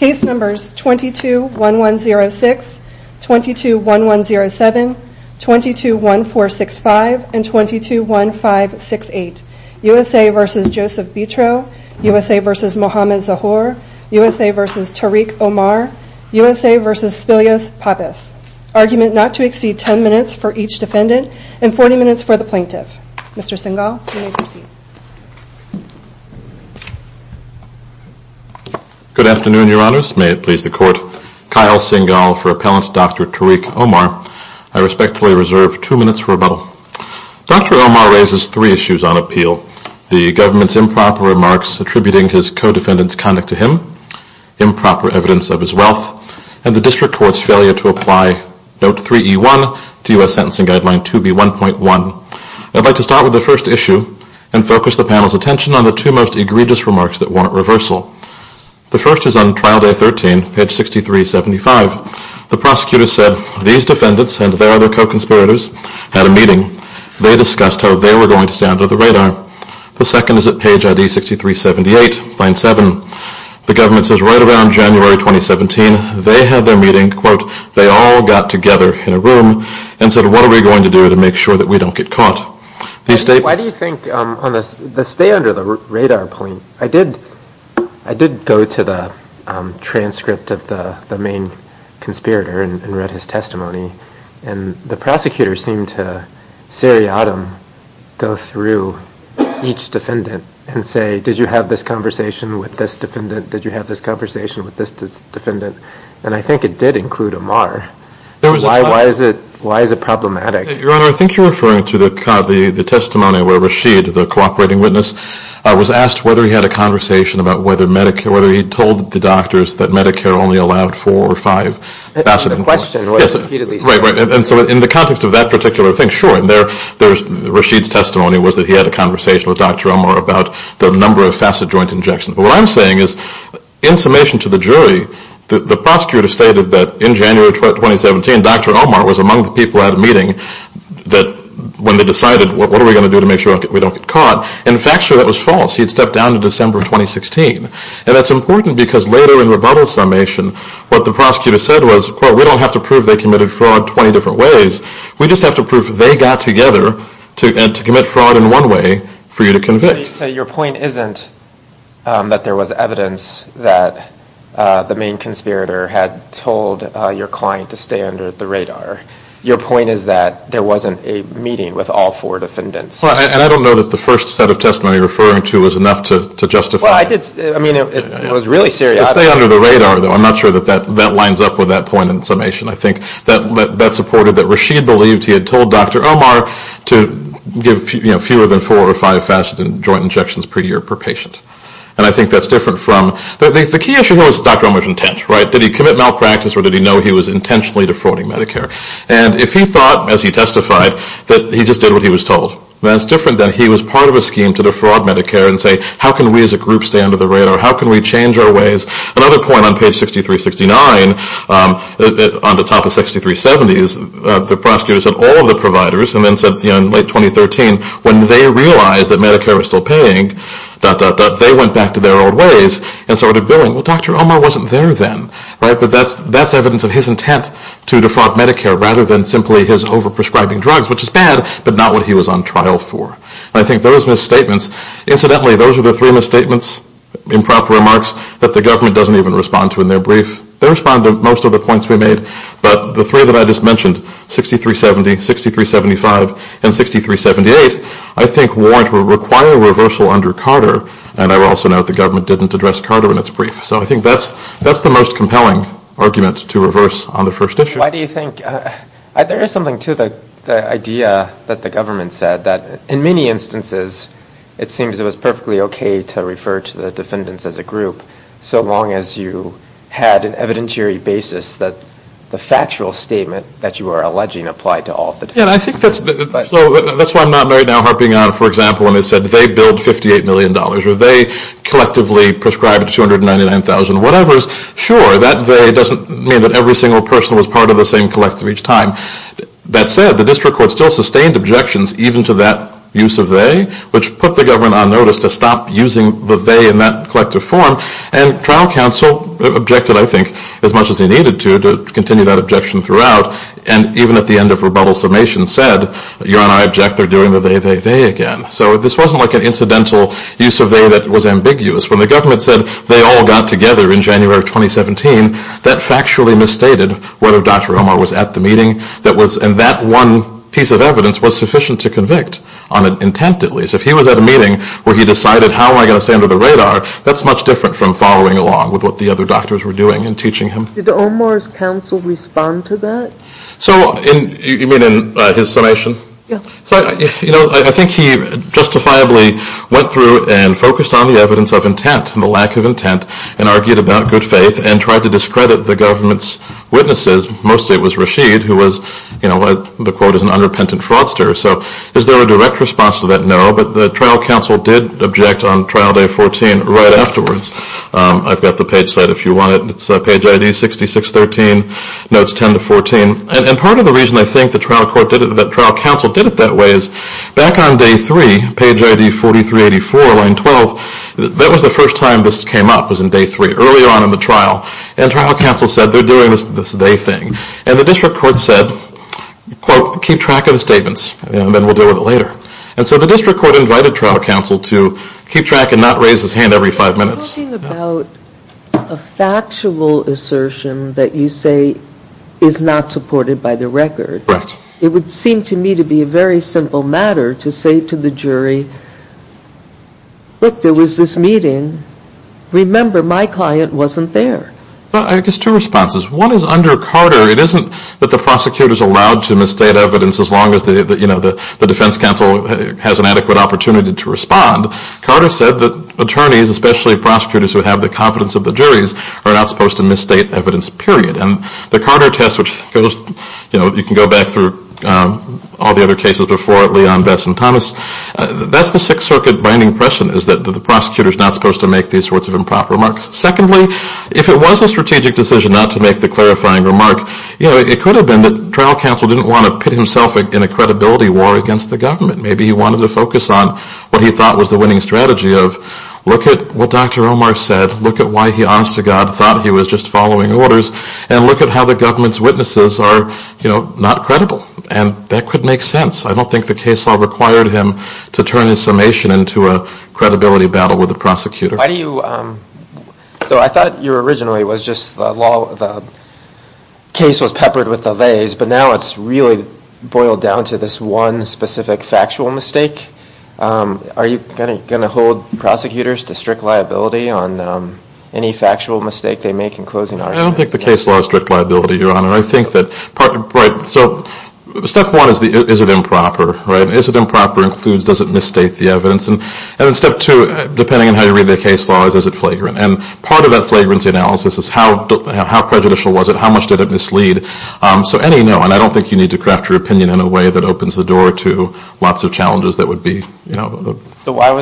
U.S.A. v. Mohamed Zahour U.S.A. v. Tariq Omar U.S.A. v. Spilius Pappas Argument not to exceed 10 minutes for each defendant and 40 minutes for the plaintiff. Mr. Singal, you may proceed. Good afternoon, Mr. President. Good afternoon, Your Honors. May it please the Court. Kyle Singal for Appellant Dr. Tariq Omar. I respectfully reserve two minutes for rebuttal. Dr. Omar raises three issues on appeal. The government's improper remarks attributing his co-defendant's conduct to him, improper evidence of his wealth, and the District Court's failure to apply Note 3E1 to U.S. Sentencing Guideline 2B1.1. I'd like to start with the first issue and focus the panel's attention on the two most egregious remarks that warrant reversal. The first is on Trial Day 13, page 6375. The prosecutor said, these defendants and their other co-conspirators had a meeting. They discussed how they were going to stay under the radar. The second is at page ID 6378, line 7. The government says right around January 2017, they had their meeting, quote, they all got together in a room and said, what are we going to do to make sure that we don't get caught? Why do you think, on the stay under the radar point, I did go to the transcript of the main conspirator and read his testimony, and the prosecutor seemed to seriatim go through each defendant and say, did you have this conversation with this defendant? Did you have this conversation with this defendant? And I think it did include Amar. Why is it problematic? Your Honor, I think you're referring to the testimony where Rashid, the cooperating witness, was asked whether he had a conversation about whether he told the doctors that Medicare only allowed four or five facet. And so in the context of that particular thing, sure, Rashid's testimony was that he had a conversation with Dr. Amar about the number of facet joint injections. But what I'm saying is, in summation to the jury, the prosecutor stated that in January 2017, Dr. Amar was among the people at a meeting when they decided, what are we going to do to make sure we don't get caught? And in fact, sure, that was false. He had stepped down in December 2016. And that's important because later in rebuttal summation, what the prosecutor said was, quote, we don't have to prove they committed fraud 20 different ways. We just have to prove they got together to commit fraud in one way for you to convict. So your point isn't that there was evidence that the main conspirator had told your client to stay under the radar. Your point is that there wasn't a meeting with all four defendants. And I don't know that the first set of testimony you're referring to was enough to justify it. It was really serious. Stay under the radar, though, I'm not sure that that lines up with that point in summation. I think that supported that Rashid believed he had told Dr. Amar to give fewer than four or five facet joint injections per year per patient. And I think that's different from, the key issue here was Dr. Amar's intent, right? Did he commit malpractice or did he know he was intentionally defrauding Medicare? And if he thought, as he testified, that he just did what he was told, that's different than he was part of a scheme to defraud Medicare and say, how can we as a group stay under the radar? How can we change our ways? Another point on page 6369 on the top of 6370 is the prosecutor said all of the providers and then said in late 2013, when they realized that Medicare was still paying, dot, dot, dot, they went back to their old ways and started billing. Well, Dr. Amar wasn't there then, right? But that's evidence of his intent to defraud Medicare rather than simply his overprescribing drugs, which is bad, but not what he was on trial for. And I think those misstatements, incidentally, those are the three misstatements, improper remarks, that the government doesn't even respond to in their brief. They respond to most of the points we made, but the three that I just mentioned, 6370, 6375, and 6378, I think warrant or require reversal under Carter, and I also note the government didn't address Carter in its brief. So I think that's the most compelling argument to reverse on the first issue. Why do you think, there is something to the idea that the government said that in many instances, it seems it was perfectly okay to refer to the defendants as a group, so long as you had an evidentiary basis that the factual statement that you are alleging applied to all of the defendants. That's why I'm not right now harping on, for example, when they said they billed $58 million, or they collectively prescribed $299,000, whatever. Sure, that they doesn't mean that every single person was part of the same collective each time. That said, the district court still sustained objections even to that use of they, which put the government on notice to stop using the they in that collective form, and trial counsel objected, I think, as much as he needed to, to continue that objection throughout, and even at the end of rebuttal summation said, you and I object, they're doing the they, they, they again. So this wasn't like an incidental use of they that was ambiguous. When the government said they all got together in January of 2017, that factually misstated whether Dr. Omar was at the meeting, and that one piece of evidence was sufficient to convict on intent, at least. If he was at a meeting where he decided, how am I going to stay under the radar, that's much different from following along with what the other doctors were doing and teaching him. Did Omar's counsel respond to that? You mean in his summation? Yeah. You know, I think he justifiably went through and focused on the evidence of intent, and the lack of intent, and argued about good faith, and tried to discredit the government's witnesses. Mostly it was Rashid, who was, you know, the quote is an underpentant fraudster. So is there a direct response to that? No, but the trial counsel did object on trial day 14 right afterwards. I've got the page set if you want it. It's page ID 6613, notes 10 to 14. And part of the reason I think the trial counsel did it that way is, back on day 3, page ID 4384, line 12, that was the first time this came up, was in day 3, earlier on in the trial, and trial counsel said they're doing this day thing. And the district court said, quote, keep track of the statements, and then we'll deal with it later. And so the district court invited trial counsel to keep track and not raise his hand every five minutes. Talking about a factual assertion that you say is not supported by the record. It would seem to me to be a very simple matter to say to the jury, look, there was this meeting. Remember, my client wasn't there. Well, I guess two responses. One is under Carter, it isn't that the prosecutor is allowed to misstate evidence as long as the defense counsel has an adequate opportunity to respond. Carter said that attorneys, especially prosecutors who have the competence of the juries, are not supposed to misstate evidence, period. And the Carter test, which you can go back through all the other cases before, Leon, Bess, and Thomas, that's the Sixth Circuit binding question is that the prosecutor is not supposed to make these sorts of improper remarks. Secondly, if it was a strategic decision not to make the clarifying remark, it could have been that trial counsel didn't want to pit himself in a credibility war against the government. Maybe he wanted to focus on what he thought was the winning strategy of look at what Dr. Omar said, look at why he, honest to God, thought he was just following orders, and look at how the government's witnesses are not credible. And that could make sense. I don't think the case law required him to turn his summation into a credibility battle with the prosecutor. So I thought originally the case was peppered with delays, but now it's really boiled down to this one specific factual mistake. Are you going to hold prosecutors to strict liability on any factual mistake they make in closing arguments? I don't think the case law is strict liability, Your Honor. Step one is, is it improper? Is it improper? Includes, does it misstate the evidence? And then step two, depending on how you read the case law, is it flagrant? And part of that flagrancy analysis is how prejudicial was it? How much did it mislead? So any and all, and I don't think you need to craft your opinion in a way that opens the door to lots of challenges that would be. Why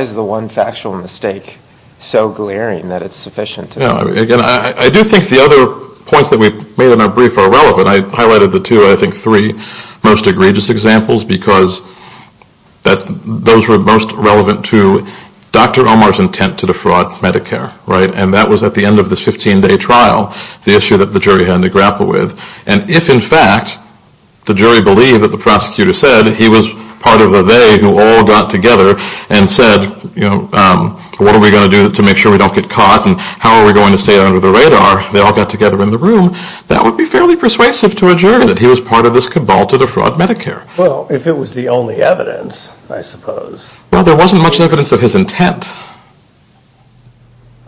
is the one factual mistake so glaring that it's sufficient? Again, I do think the other points that we've made in our brief are relevant. I highlighted the two, I think three most egregious examples because those were most relevant to Dr. Omar's intent to defraud Medicare, right? And that was at the end of the 15-day trial, the issue that the jury had to grapple with. And if, in fact, the jury believed that the prosecutor said he was part of the they who all got together and said, you know, what are we going to do to make sure we don't get caught and how are we going to stay under the radar? They all got together in the room. That would be fairly persuasive to a jury that he was part of this cabal to defraud Medicare. Well, if it was the only evidence, I suppose. Well, there wasn't much evidence of his intent.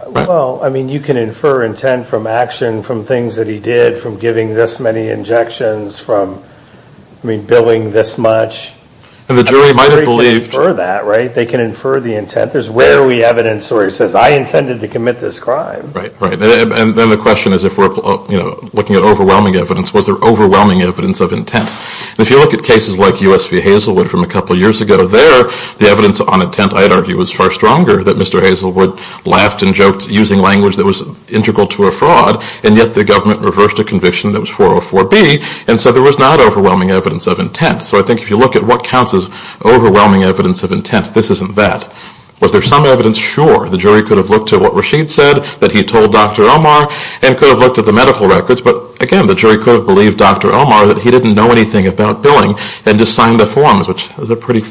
Well, I mean, you can infer intent from action, from things that he did, from giving this many injections, from, I mean, billing this much. And the jury might have believed. They can infer that, right? They can infer the intent. There's rarely evidence where he says, I intended to commit this crime. Right, right. And then the question is if we're, you know, looking at overwhelming evidence, was there overwhelming evidence of intent? And if you look at cases like U.S. v. Hazelwood from a couple years ago there, the evidence on intent, I'd argue, was far stronger that Mr. Hazelwood laughed and joked using language that was integral to a fraud. And yet the government reversed a conviction that was 404B. And so there was not overwhelming evidence of intent. So I think if you look at what counts as overwhelming evidence of intent, this isn't that. Was there some evidence? Sure. The jury could have looked at what Rashid said that he told Dr. Omar and could have looked at the medical records. But, again, the jury could have believed Dr. Omar that he didn't know anything about billing and just signed the forms, which is a pretty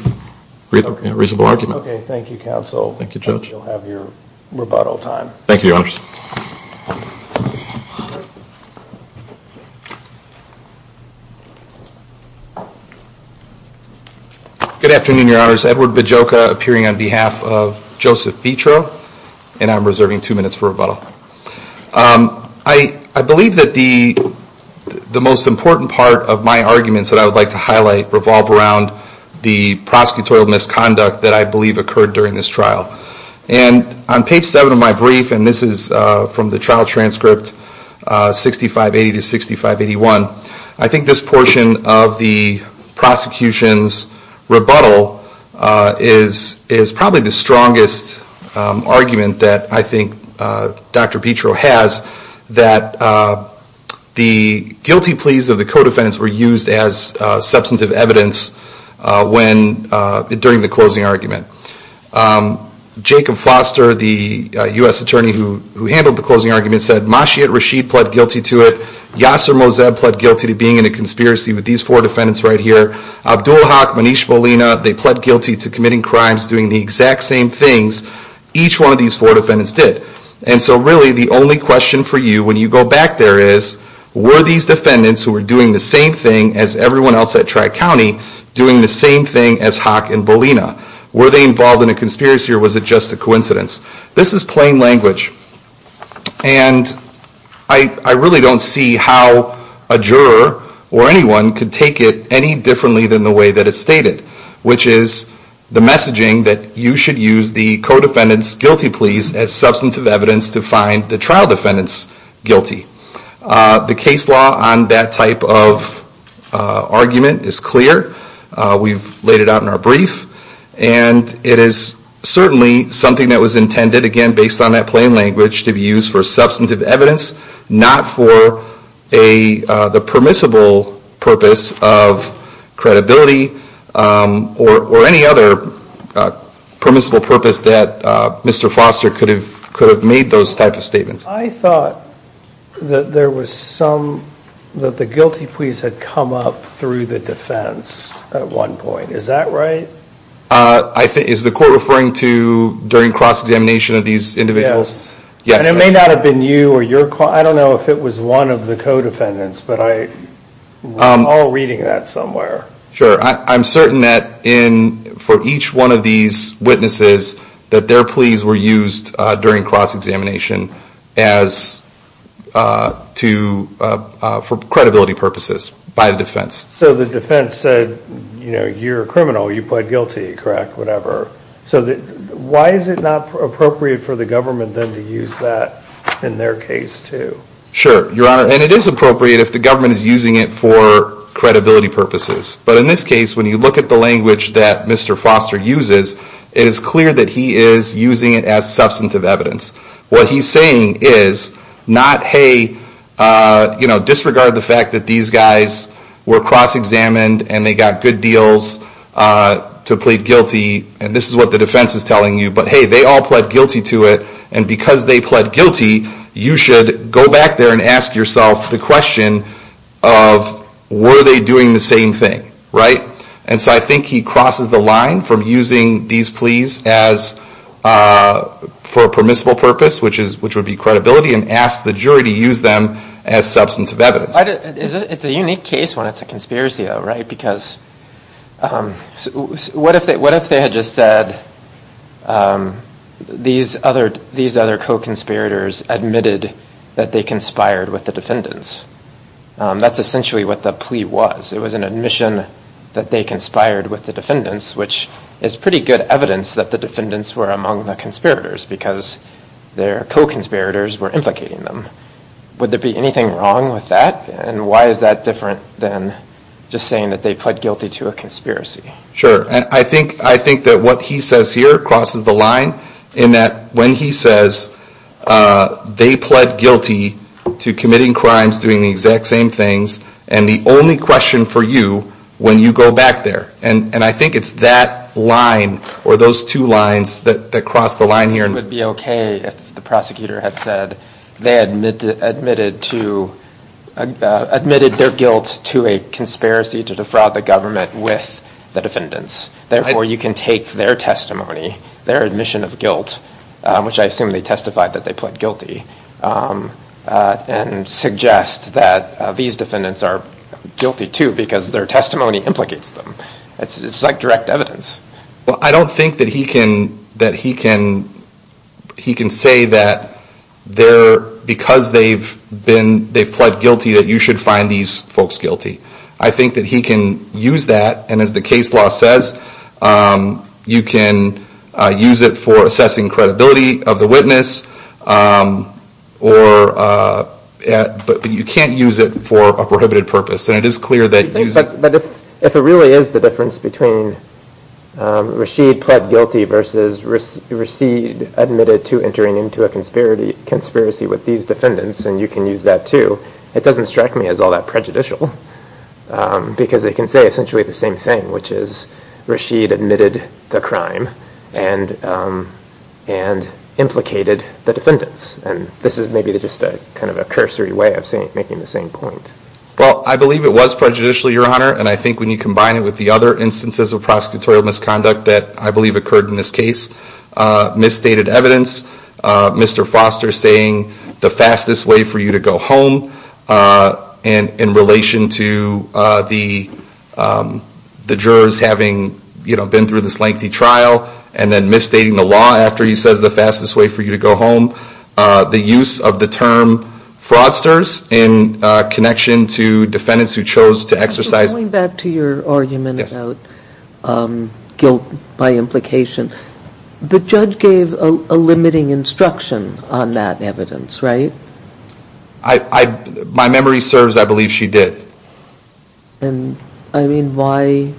reasonable argument. Okay. Thank you, counsel. Thank you, Judge. I hope you'll have your rebuttal time. Thank you, Your Honors. Good afternoon, Your Honors. Edward Bejoka appearing on behalf of Joseph Bietro. And I'm reserving two minutes for rebuttal. I believe that the most important part of my arguments that I would like to highlight revolve around the prosecutorial misconduct that I believe occurred during this trial. And on page seven of my brief, and this is from the trial transcript 6580 to 6581, I think this portion of the prosecution's rebuttal is probably the strongest argument that I think Dr. Bietro has, that the guilty pleas of the co-defendants were used as substantive evidence during the closing argument. Jacob Foster, the U.S. attorney who handled the closing argument, said, Mashiad Rashid pled guilty to it. Yasser Mozeb pled guilty to being in a conspiracy with these four defendants right here. Abdul Haq, Manish Bolina, they pled guilty to committing crimes, doing the exact same things each one of these four defendants did. And so really the only question for you when you go back there is, were these defendants who were doing the same thing as everyone else at Tri-County doing the same thing as Haq and Bolina? Were they involved in a conspiracy or was it just a coincidence? This is plain language. And I really don't see how a juror or anyone could take it any differently than the way that it's stated, which is the messaging that you should use the co-defendants' guilty pleas as substantive evidence to find the trial defendants guilty. The case law on that type of argument is clear. We've laid it out in our brief. And it is certainly something that was intended, again, based on that plain language, to be used for substantive evidence, not for the permissible purpose of credibility or any other permissible purpose that Mr. Foster could have made those type of statements. I thought that there was some, that the guilty pleas had come up through the defense at one point. Is that right? Is the court referring to during cross-examination of these individuals? Yes. And it may not have been you or your, I don't know if it was one of the co-defendants. But we're all reading that somewhere. Sure. I'm certain that for each one of these witnesses that their pleas were used during cross-examination for credibility purposes by the defense. So the defense said, you know, you're a criminal. You pled guilty, correct, whatever. So why is it not appropriate for the government then to use that in their case, too? Sure, Your Honor. And it is appropriate if the government is using it for credibility purposes. But in this case, when you look at the language that Mr. Foster uses, it is clear that he is using it as substantive evidence. What he's saying is not, hey, you know, disregard the fact that these guys were cross-examined. And they got good deals to plead guilty. And this is what the defense is telling you. But, hey, they all pled guilty to it. And because they pled guilty, you should go back there and ask yourself the question of, were they doing the same thing, right? And so I think he crosses the line from using these pleas for a permissible purpose, which would be credibility, and asks the jury to use them as substantive evidence. But it's a unique case when it's a conspiracy, though, right? Because what if they had just said these other co-conspirators admitted that they conspired with the defendants? That's essentially what the plea was. It was an admission that they conspired with the defendants, which is pretty good evidence that the defendants were among the conspirators because their co-conspirators were implicating them. Would there be anything wrong with that? And why is that different than just saying that they pled guilty to a conspiracy? Sure. I think that what he says here crosses the line in that when he says they pled guilty to committing crimes, doing the exact same things, and the only question for you when you go back there. And I think it's that line or those two lines that cross the line here. It would be okay if the prosecutor had said they admitted their guilt to a conspiracy to defraud the government with the defendants. Therefore, you can take their testimony, their admission of guilt, which I assume they testified that they pled guilty, and suggest that these defendants are guilty, too, because their testimony implicates them. It's like direct evidence. Well, I don't think that he can say that because they've pled guilty that you should find these folks guilty. I think that he can use that, and as the case law says, you can use it for assessing credibility of the witness, but you can't use it for a prohibited purpose. But if it really is the difference between Rashid pled guilty versus Rashid admitted to entering into a conspiracy with these defendants, and you can use that, too, it doesn't strike me as all that prejudicial. Because they can say essentially the same thing, which is Rashid admitted the crime and implicated the defendants. And this is maybe just a cursory way of making the same point. Well, I believe it was prejudicial, Your Honor, and I think when you combine it with the other instances of prosecutorial misconduct that I believe occurred in this case, misstated evidence, Mr. Foster saying the fastest way for you to go home, and in relation to the jurors having been through this lengthy trial, and then misstating the law after he says the fastest way for you to go home, the use of the term fraudsters in connection to the fact that the defendant is guilty. So going back to your argument about guilt by implication, the judge gave a limiting instruction on that evidence, right? My memory serves, I believe she did. And I mean, why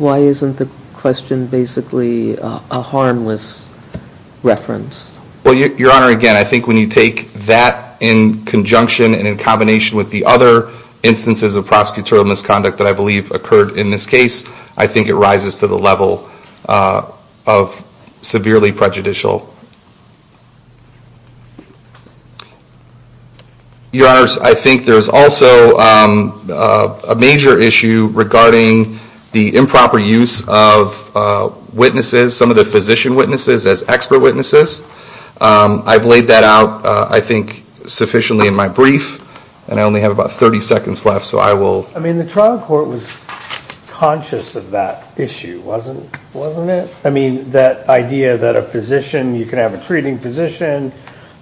isn't the question basically a harmless reference? Well, Your Honor, again, I think when you take that in conjunction and in combination with the other instances of prosecutorial misconduct that I believe occurred in this case, I think it rises to the level of severely prejudicial. Your Honors, I think there's also a major issue regarding the improper use of witnesses, some of the physician witnesses as expert witnesses. I've laid that out, I think, sufficiently in my brief, and I only have about 30 seconds left, so I will... I mean, the trial court was conscious of that issue, wasn't it? I mean, that idea that a physician, you can have a treating physician,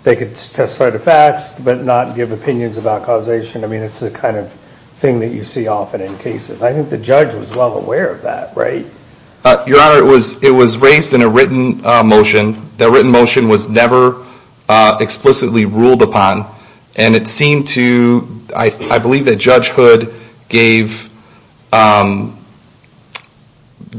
they could testify to facts, but not give opinions about causation. I mean, it's the kind of thing that you see often in cases. I think the judge was well aware of that, right? Your Honor, it was raised in a written motion. That written motion was never explicitly ruled upon, and it seemed to... I believe that Judge Hood gave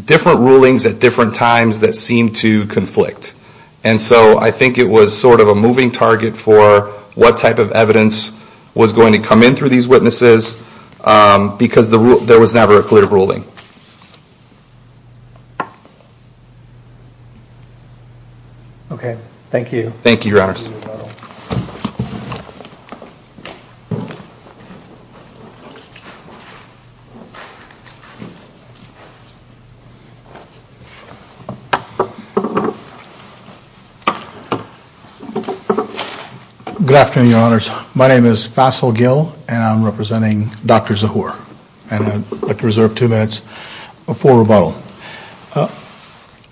different rulings at different times that seemed to conflict. And so I think it was sort of a moving target for what type of evidence was going to come in through these witnesses, because there was never a clear ruling. Okay. Thank you. Thank you, Your Honors. Good afternoon, Your Honors. My name is Fasil Gill, and I'm representing Dr. Zahur. And I'd like to reserve two minutes for rebuttal.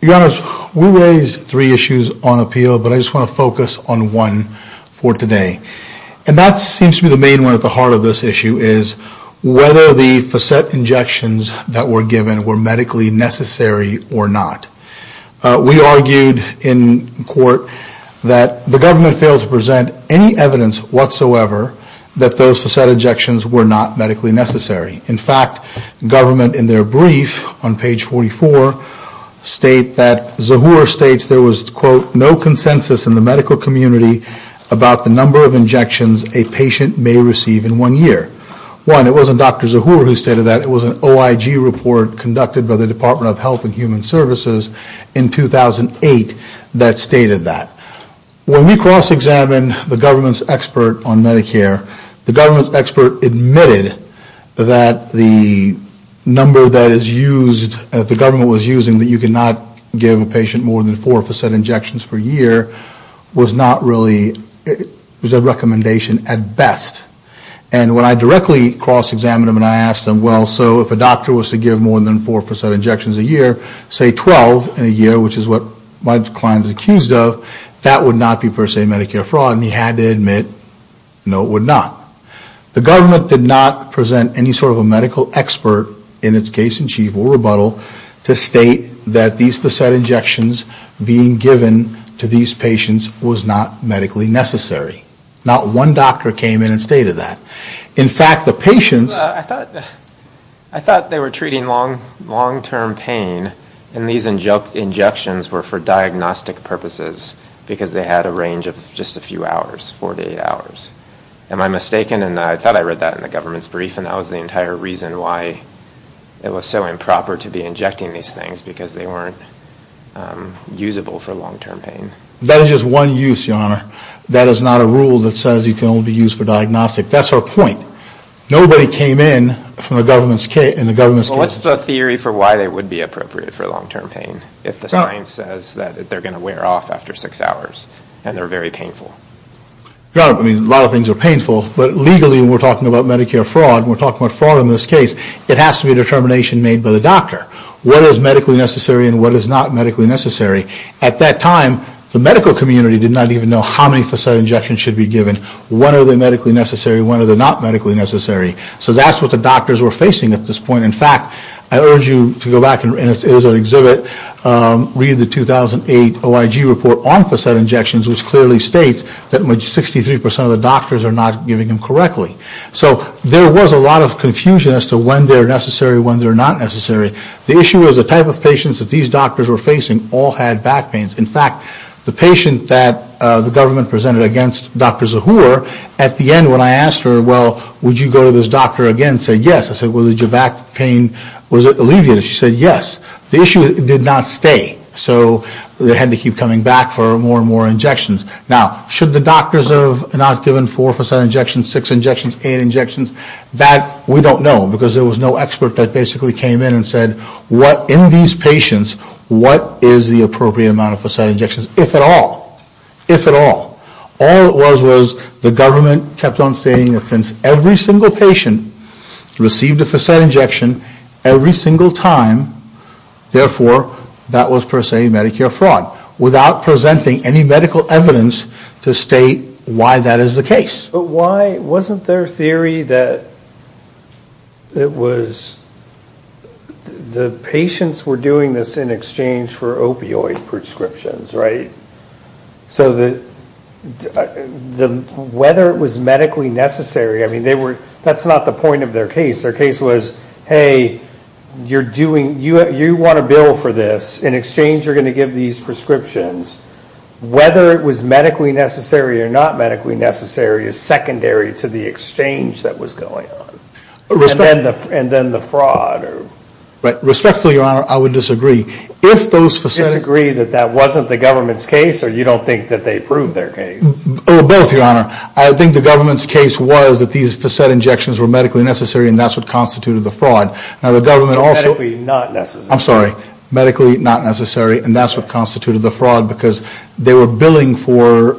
Your Honors, we raised three issues on appeal, but I just want to focus on one for today. And that seems to be the main one at the heart of this issue is whether the facet injections that were given were medically necessary or not. We argued in court that the government failed to present any evidence whatsoever that those facet injections were not medically necessary. In fact, government, in their brief on page 44, state that Zahur states there was, quote, no consensus in the medical community about the number of injections a patient may receive in one year. One, it wasn't Dr. Zahur who stated that. It was an OIG report conducted by the Department of Health and Human Services in 2008 that stated that. When we cross-examined the government's expert on Medicare, the government's expert admitted that injections were not medically necessary. That the number that is used, that the government was using, that you could not give a patient more than four facet injections per year was not really, was a recommendation at best. And when I directly cross-examined them and I asked them, well, so if a doctor was to give more than four facet injections a year, say 12 in a year, which is what my client is accused of, that would not be per se Medicare fraud. And he had to admit, no, it would not. The government did not present any sort of a medical expert in its case in chief or rebuttal to state that these facet injections being given to these patients was not medically necessary. Not one doctor came in and stated that. In fact, the patients... I thought they were treating long-term pain and these injections were for diagnostic purposes because they had a range of just a few hours, 48 hours. Am I mistaken? And I thought I read that in the government's brief and that was the entire reason why it was so improper to be injecting these things because they weren't usable for long-term pain. That is just one use, Your Honor. That is not a rule that says you can only be used for diagnostic. That's our point. Nobody came in from the government's case... What's the theory for why they would be appropriate for long-term pain if the science says that they're going to wear off after six hours and they're very painful? A lot of things are painful, but legally when we're talking about Medicare fraud and we're talking about fraud in this case, it has to be a determination made by the doctor. What is medically necessary and what is not medically necessary? At that time, the medical community did not even know how many facet injections should be given. When are they medically necessary and when are they not medically necessary? So that's what the doctors were facing at this point. In fact, I urge you to go back and read the 2008 OIG report on facet injections, which clearly states that 63% of the doctors are not giving them correctly. So there was a lot of confusion as to when they're necessary and when they're not necessary. The issue was the type of patients that these doctors were facing all had back pains. In fact, the patient that the government presented against Dr. Zahur, at the end when I asked her, well, would you go to this doctor again and say yes, I said, well, did your back pain, was it alleviated? She said yes. The issue did not stay, so they had to keep coming back for more and more injections. Now, should the doctors have not given four facet injections, six injections, eight injections? That we don't know, because there was no expert that basically came in and said, what in these patients, what is the appropriate amount of facet injections, if at all? If at all. All it was was the government kept on stating that since every single patient received a facet injection, every single time, therefore, that was per se Medicare fraud. Without presenting any medical evidence to state why that is the case. But why, wasn't there a theory that it was, the patients were doing this in exchange for opioid prescriptions, right? So whether it was medically necessary, I mean, that's not the point of their case. Their case was, hey, you're doing, you want a bill for this, in exchange you're going to give these prescriptions. Whether it was medically necessary or not medically necessary is secondary to the exchange that was going on. And then the fraud. Respectfully, Your Honor, I would disagree. Disagree that that wasn't the government's case, or you don't think that they proved their case? Both, Your Honor. I think the government's case was that these facet injections were medically necessary and that's what constituted the fraud. Medically not necessary. I'm sorry, medically not necessary and that's what constituted the fraud because they were billing for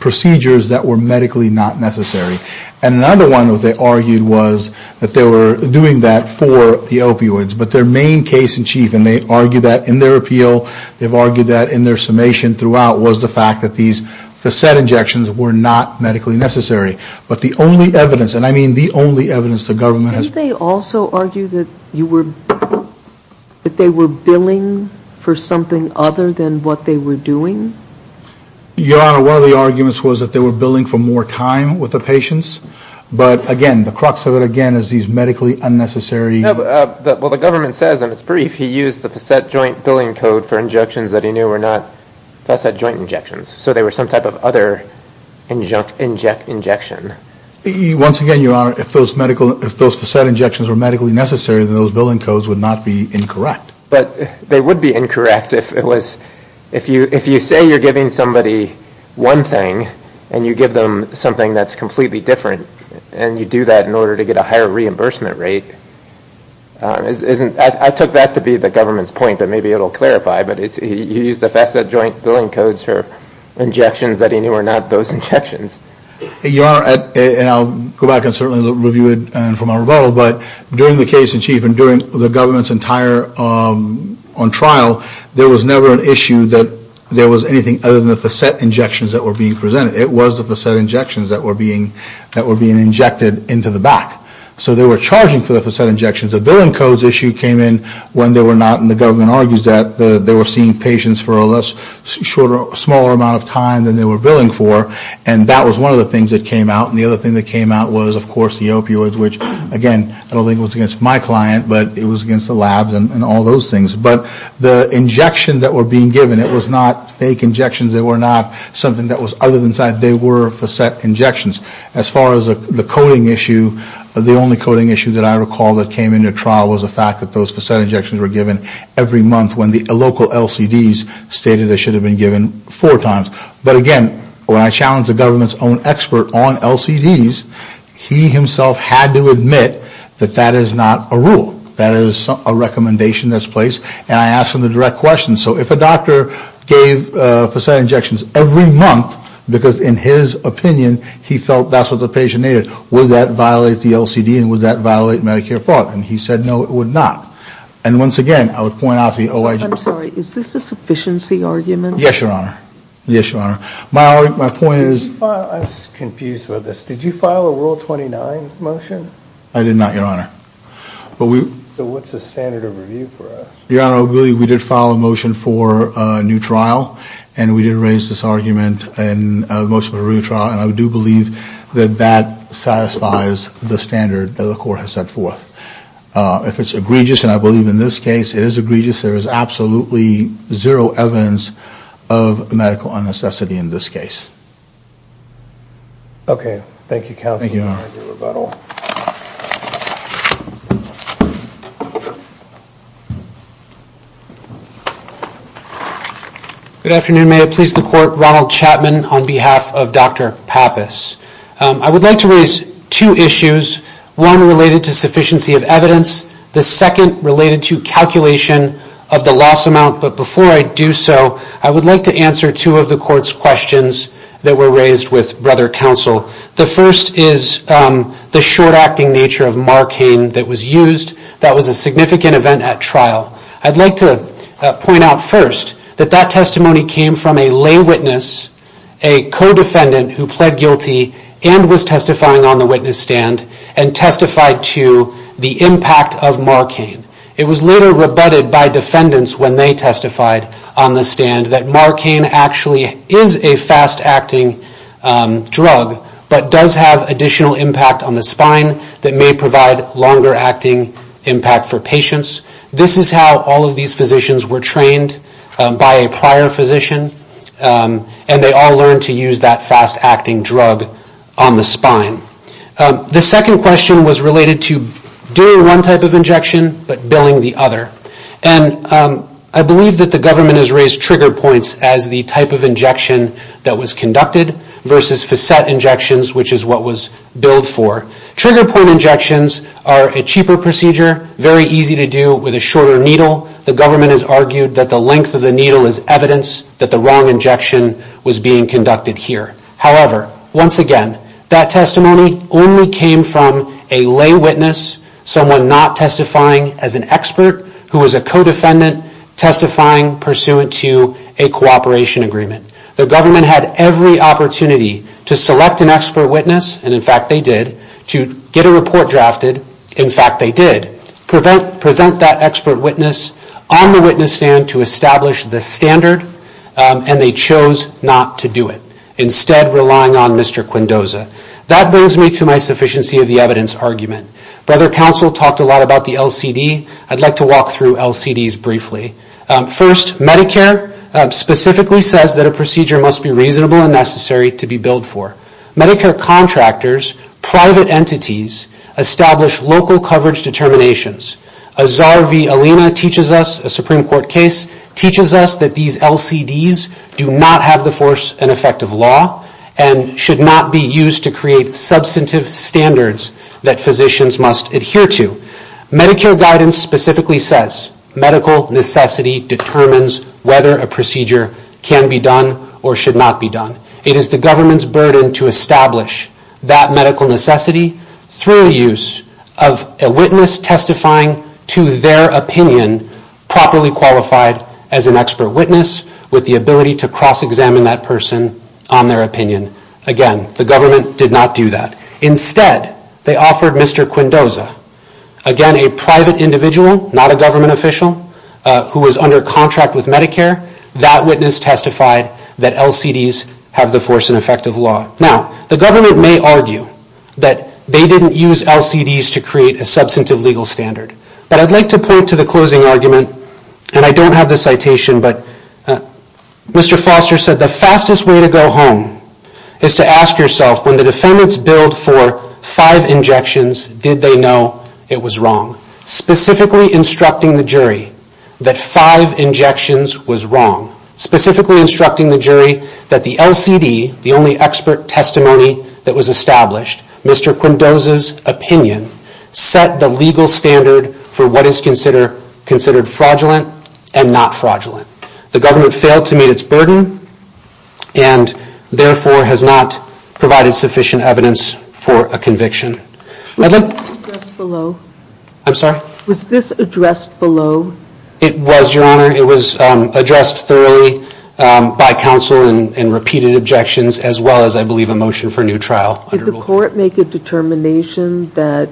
procedures that were medically not necessary. And another one that they argued was that they were doing that for the opioids. But their main case in chief, and they argue that in their appeal, they've argued that in their summation throughout, was the fact that these facet injections were not medically necessary. But the only evidence, and I mean the only evidence the government has... Didn't they also argue that you were, that they were billing for something other than what they were doing? Your Honor, one of the arguments was that they were billing for more time with the patients. But again, the crux of it again is these medically unnecessary... Well, the government says, and it's brief, he used the facet joint billing code for injections that he knew were not facet joint injections. So they were some type of other injection. Once again, Your Honor, if those facet injections were medically necessary, then those billing codes would not be incorrect. But they would be incorrect if it was, if you say you're giving somebody one thing and you give them something that's completely different and you do that in order to get a higher reimbursement rate. I took that to be the government's point, but maybe it'll clarify. But he used the facet joint billing codes for injections that he knew were not those injections. Your Honor, and I'll go back and certainly review it from our rebuttal, but during the case in chief and during the government's entire... On trial, there was never an issue that there was anything other than the facet injections that were being presented. It was the facet injections that were being injected into the back. So they were charging for the facet injections. The billing codes issue came in when they were not, and the government argues that they were seeing patients for a smaller amount of time than they were billing for. And that was one of the things that came out. And the other thing that came out was, of course, the opioids, which, again, I don't think it was against my client, but it was against the labs and all those things. But the injection that were being given, it was not fake injections. They were not something that was other than... They were facet injections. As far as the coding issue, the only coding issue that I recall that came into trial was the fact that those facet injections were given every month when the local LCDs stated they should have been given four times. But again, when I challenged the government's own expert on LCDs, he himself had to admit that that is not a rule. That is a recommendation that's placed. And I asked him the direct question. So if a doctor gave facet injections every month, because in his opinion he felt that's what the patient needed, would that violate the LCD and would that violate Medicare fraud? And he said, no, it would not. And once again, I would point out the OIG... I'm sorry, is this a sufficiency argument? Yes, Your Honor. Yes, Your Honor. My point is... I was confused with this. Did you file a Rule 29 motion? I did not, Your Honor. So what's the standard of review for us? Your Honor, we did file a motion for a new trial and we did raise this argument in the motion for a new trial and I do believe that that satisfies the standard that the court has set forth. If it's egregious, and I believe in this case it is egregious, there is absolutely zero evidence of medical unnecessity in this case. Okay. Thank you, counsel. Good afternoon. May I please the Court? Ronald Chapman on behalf of Dr. Pappas. I would like to raise two issues. One related to sufficiency of evidence. The second related to calculation of the loss amount. But before I do so, I would like to answer two of the Court's questions that were raised with Brother Counsel. The first is the short-acting nature of Marcane that was used. That was a significant event at trial. I'd like to point out first that that testimony came from a lay witness, a co-defendant who pled guilty and was testifying on the witness stand and testified to the impact of Marcane. It was later rebutted by defendants when they testified on the stand that Marcane actually is a fast-acting drug but does have additional impact on the spine that may provide longer-acting impact for patients. This is how all of these physicians were trained by a prior physician and they all learned to use that fast-acting drug on the spine. The second question was related to doing one type of injection but billing the other. I believe that the government has raised trigger points as the type of injection that was conducted versus facet injections, which is what was billed for. Trigger point injections are a cheaper procedure, very easy to do with a shorter needle. The government has argued that the length of the needle is evidence that the wrong injection was being conducted here. However, once again, that testimony only came from a lay witness, someone not testifying as an expert who was a co-defendant testifying pursuant to a cooperation agreement. The government had every opportunity to select an expert witness, and in fact they did, to get a report drafted, in fact they did, present that expert witness on the witness stand to establish the standard and they chose not to do it. Instead, relying on Mr. Quindosa. That brings me to my sufficiency of the evidence argument. Brother Counsel talked a lot about the LCD. I'd like to walk through LCDs briefly. First, Medicare specifically says that a procedure must be reasonable and necessary to be billed for. Medicare contractors, private entities, establish local coverage determinations. Azhar V. Alina teaches us, a Supreme Court case, teaches us that these LCDs do not have the force and effect of law and should not be used to create substantive standards that physicians must adhere to. Medicare guidance specifically says medical necessity determines whether a procedure can be done or should not be done. It is the government's burden to establish that medical necessity through the use of a witness testifying to their opinion properly qualified as an expert witness with the ability to cross examine that person on their opinion. Again, the government did not do that. Instead, they offered Mr. Quindosa. Again, a private individual, not a government official who was under contract with Medicare. That witness testified that LCDs have the force and effect of law. Now, the government may argue that they didn't use LCDs to create a substantive legal standard, but I'd like to point to the closing argument and I don't have the citation, but Mr. Foster said the fastest way to go home is to ask yourself, when the defendants billed for five injections, did they know it was wrong? Specifically instructing the jury that five injections was wrong. Specifically instructing the jury that the LCD, the only expert testimony that was established, Mr. Quindosa's opinion set the legal standard for what is considered fraudulent and not fraudulent. The government failed to meet its burden and therefore has not provided sufficient evidence for a conviction. Was this addressed below? It was, Your Honor. It was addressed thoroughly by counsel and repeated objections as well as, I believe, a motion for new trial. Did the court make a determination that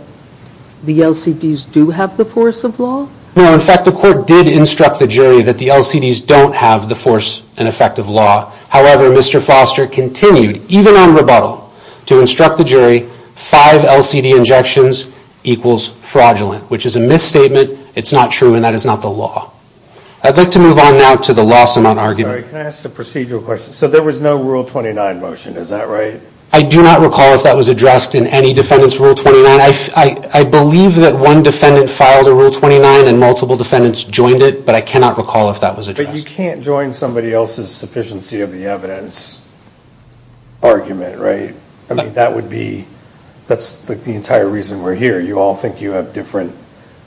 the LCDs do have the force of law? No, in fact, the court did instruct the jury that the LCDs don't have the force and effect of law. However, Mr. Foster continued even on rebuttal to instruct the jury five LCD injections equals fraudulent which is a misstatement. It's not true and that is not the law. I'd like to move on now to the loss amount argument. Can I ask a procedural question? So there was no Rule 29 motion, is that right? I do not recall if that was addressed in any defendant's Rule 29. I believe that one defendant filed a Rule 29 and multiple defendants joined it but I cannot recall if that was addressed. But you can't join somebody else's sufficiency of the evidence argument, right? I mean, that would be that's the entire reason we're here. You all think you have different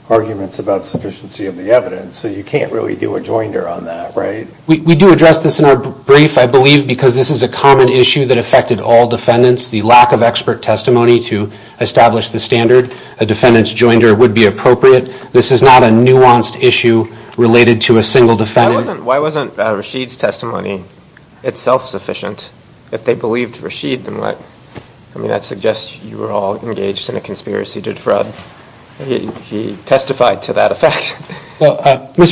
arguments about sufficiency of the evidence so you addressed this in our brief. I believe because this is a common issue that affected all defendants, the lack of expert testimony to establish the standard, a defendant's joinder would be appropriate. This is not a nuanced issue related to a single defendant. Why wasn't Rashid's testimony itself sufficient? If they believed Rashid, then what? I mean, that suggests you were all engaged in a conspiracy to defraud. He testified to that effect. Well, he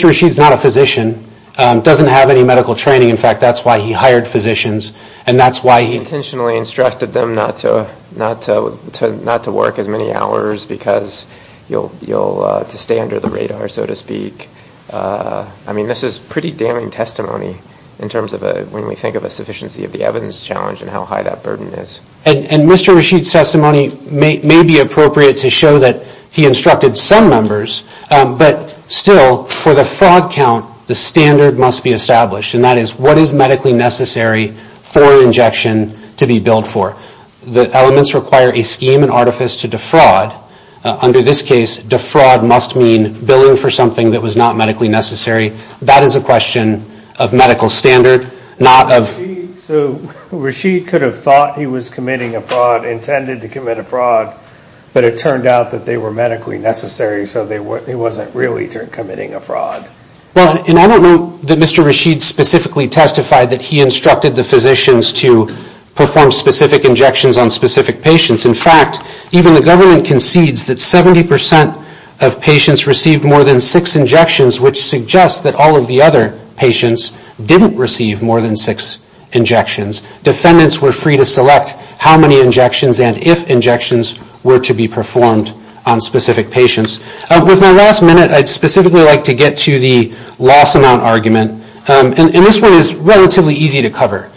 didn't have any medical training. In fact, that's why he hired physicians and that's why he intentionally instructed them not to work as many hours because you'll stay under the radar, so to speak. I mean, this is pretty damning testimony in terms of when we think of a sufficiency of the evidence challenge and how high that burden is. And Mr. Rashid's testimony may be appropriate to show that he instructed some members, but still for the fraud count, the standard must be established and that is what is medically necessary for injection to be billed for. The elements require a scheme and artifice to defraud. Under this case, defraud must mean billing for something that was not medically necessary. That is a question of medical standard, not of... So Rashid could have thought he was committing a fraud, intended to commit a fraud, but it turned out that they were medically necessary, so it wasn't really committing a fraud. Well, and I don't know that Mr. Rashid specifically testified that he instructed the physicians to perform specific injections on specific patients. In fact, even the government concedes that 70% of patients received more than 6 injections, which suggests that all of the other patients didn't receive more than 6 injections. Defendants were free to select how many injections and if injections were to be performed on specific patients. With my last minute, I'd specifically like to get to the loss amount argument, and this one is relatively easy to cover.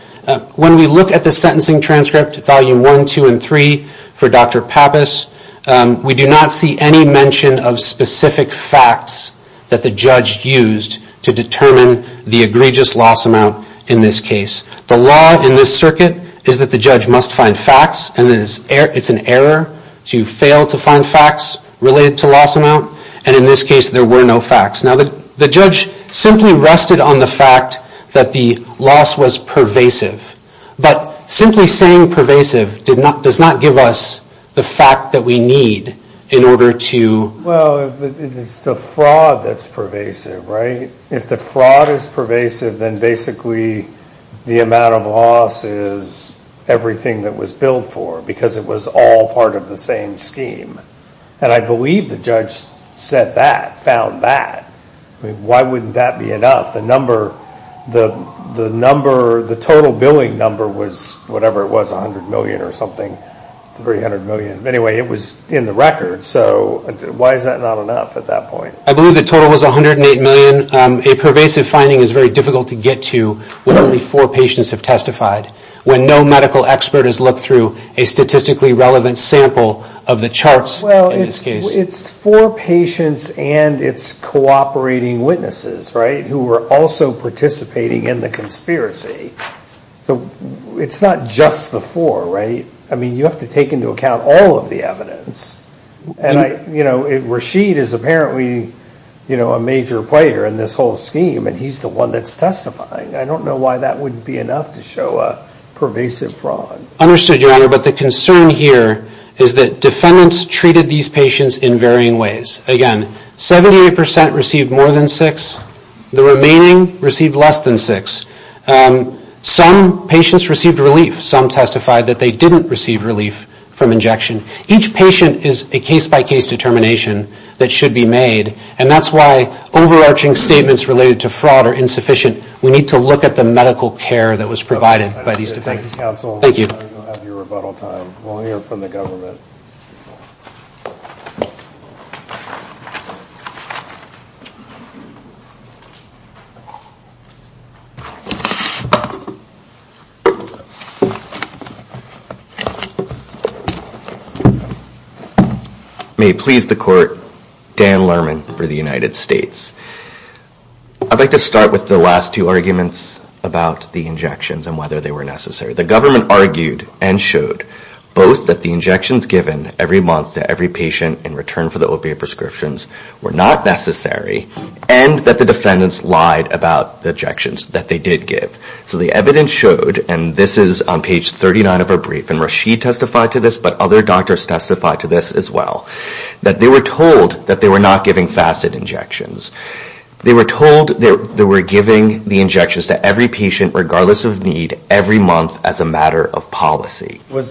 When we look at the sentencing transcript, volume 1, 2, and 3 for Dr. Pappas, we do not see any mention of specific facts that the judge used to determine the egregious loss amount in this case. The law in this circuit is that the judge must find facts, and it's an error to fail to find facts related to loss amount, and in this case, there were no facts. Now, the judge simply rested on the fact that the loss was pervasive, but simply saying pervasive does not give us the fact that we need in order to... Well, it's the fraud that's pervasive, right? If the fraud is pervasive, then basically the amount of loss is everything that was billed for because it was all part of the same scheme, and I believe the judge said that, found that. I mean, why wouldn't that be enough? The number... The total billing number was whatever it was, 100 million or something, 300 million. Anyway, it was in the record, so why is that not enough at that point? I believe the total was 108 million. A pervasive finding is very difficult to get to when only four patients have testified, when no medical expert has looked through a statistically relevant sample of the charts in this case. Well, it's four patients and it's cooperating witnesses, right, who were also participating in the conspiracy. So, it's not just the four, right? I mean, you have to take into account all of the evidence, and I... Cheat is apparently a major player in this whole scheme, and he's the one that's testifying. I don't know why that wouldn't be enough to show a pervasive fraud. Understood, Your Honor, but the concern here is that defendants treated these patients in varying ways. Again, 78% received more than six, the remaining received less than six. Some patients received relief. Some testified that they didn't receive relief from injection. Each patient is a case-by-case determination that should be made, and that's why overarching statements related to fraud are insufficient. We need to look at the medical care that was provided by these defendants. Thank you. May it please the Court, Dan Lerman for the United States. I'd like to start with the last two arguments about the injections and whether they were necessary. The government argued and showed both that the injections given every month to every patient in return for the opiate prescriptions were not necessary, and that the defendants lied about the injections that they did give. So, the evidence showed, and this is on page 39 of our brief, and Rashid testified to this, but other doctors testified to this as well, that they were told that they were not giving facet injections. They were told they were giving the injections to every patient, regardless of need, every month as a matter of policy. You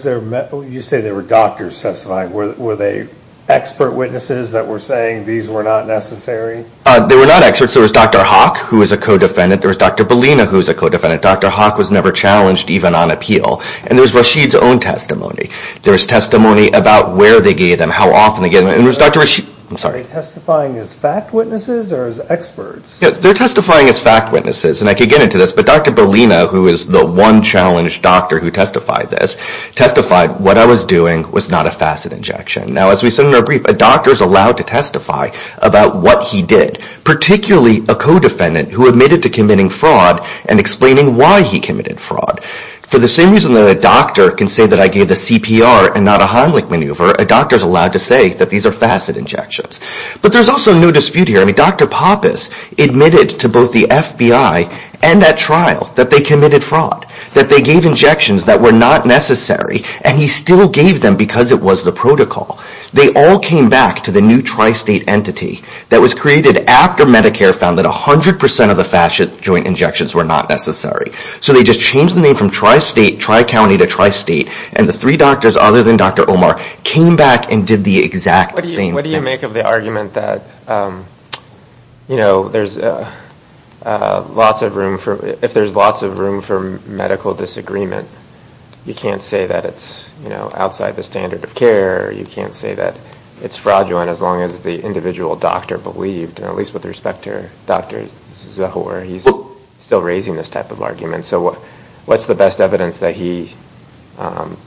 say there were doctors testifying. Were they expert witnesses that were saying these were not necessary? They were not experts. There was Dr. Hawk, who was a co-defendant. There was Dr. Bellina, who was a co-defendant. Dr. Hawk was never challenged even on appeal. And there was Rashid's own testimony. There was testimony about where they gave them, how often they gave them, and there was Dr. Rashid. I'm sorry. Are they testifying as fact witnesses or as experts? They're testifying as fact witnesses, and I could get into this, but Dr. Bellina, who is the one challenged doctor who testified this, testified what I was doing was not a facet injection. Now, as we said in our brief, a doctor is allowed to testify about what he did, particularly a co-defendant who admitted to committing fraud and explaining why he committed fraud. For the same reason that a doctor can say that I gave the CPR and not a Heimlich maneuver, a doctor is allowed to say that these are facet injections. But there's also no dispute here. I mean, Dr. Pappas admitted to both the FBI and at trial that they committed fraud, that they gave injections that were not necessary, and he still gave them because it was the protocol. They all came back to the new tri-state entity that was created after Medicare found that 100% of the facet joint injections were not necessary. So they just changed the name from tri-state, tri-county, to tri-state, and the three doctors other than Dr. Omar came back and did the exact same thing. What do you make of the argument that, you know, if there's lots of room for medical disagreement, you can't say that it's, you know, outside the standard of care, you can't say that it's fraudulent as long as the individual doctor believed, at least with respect to Dr. Zahor, he's still raising this type of argument. So what's the best evidence that he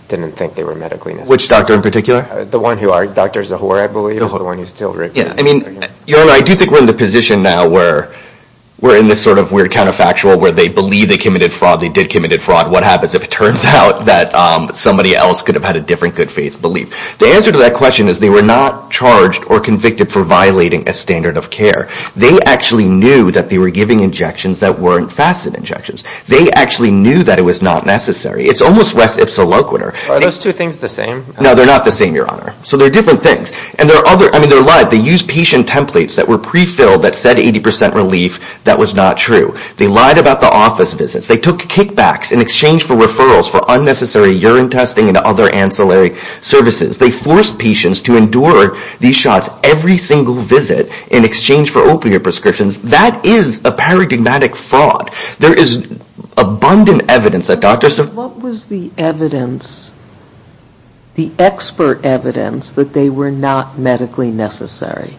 didn't think they were medically necessary? Which doctor in particular? The one who, Dr. Zahor, I believe, is the one who still... Yeah, I mean, I do think we're in the position now where we're in this sort of weird counterfactual where they believe they committed fraud, they did commit fraud, what happens if it turns out that somebody else could have had a different good faith belief? The answer to that question is they were not charged or convicted for violating a standard of care. They actually knew that they were giving injections that weren't facet injections. They actually knew that it was not necessary. It's almost res ipsa loquitur. Are those two things the same? No, they're not the same, Your Honor. So they're different things. I mean, they're lies. They used patient templates that were pre-filled that said 80% relief. That was not true. They lied about the office visits. They took kickbacks in exchange for referrals for unnecessary urine testing and other ancillary services. They forced patients to endure these shots every single visit in exchange for opiate prescriptions. That is a paradigmatic fraud. There is abundant evidence that doctors... What was the evidence, the expert evidence that they were not medically necessary?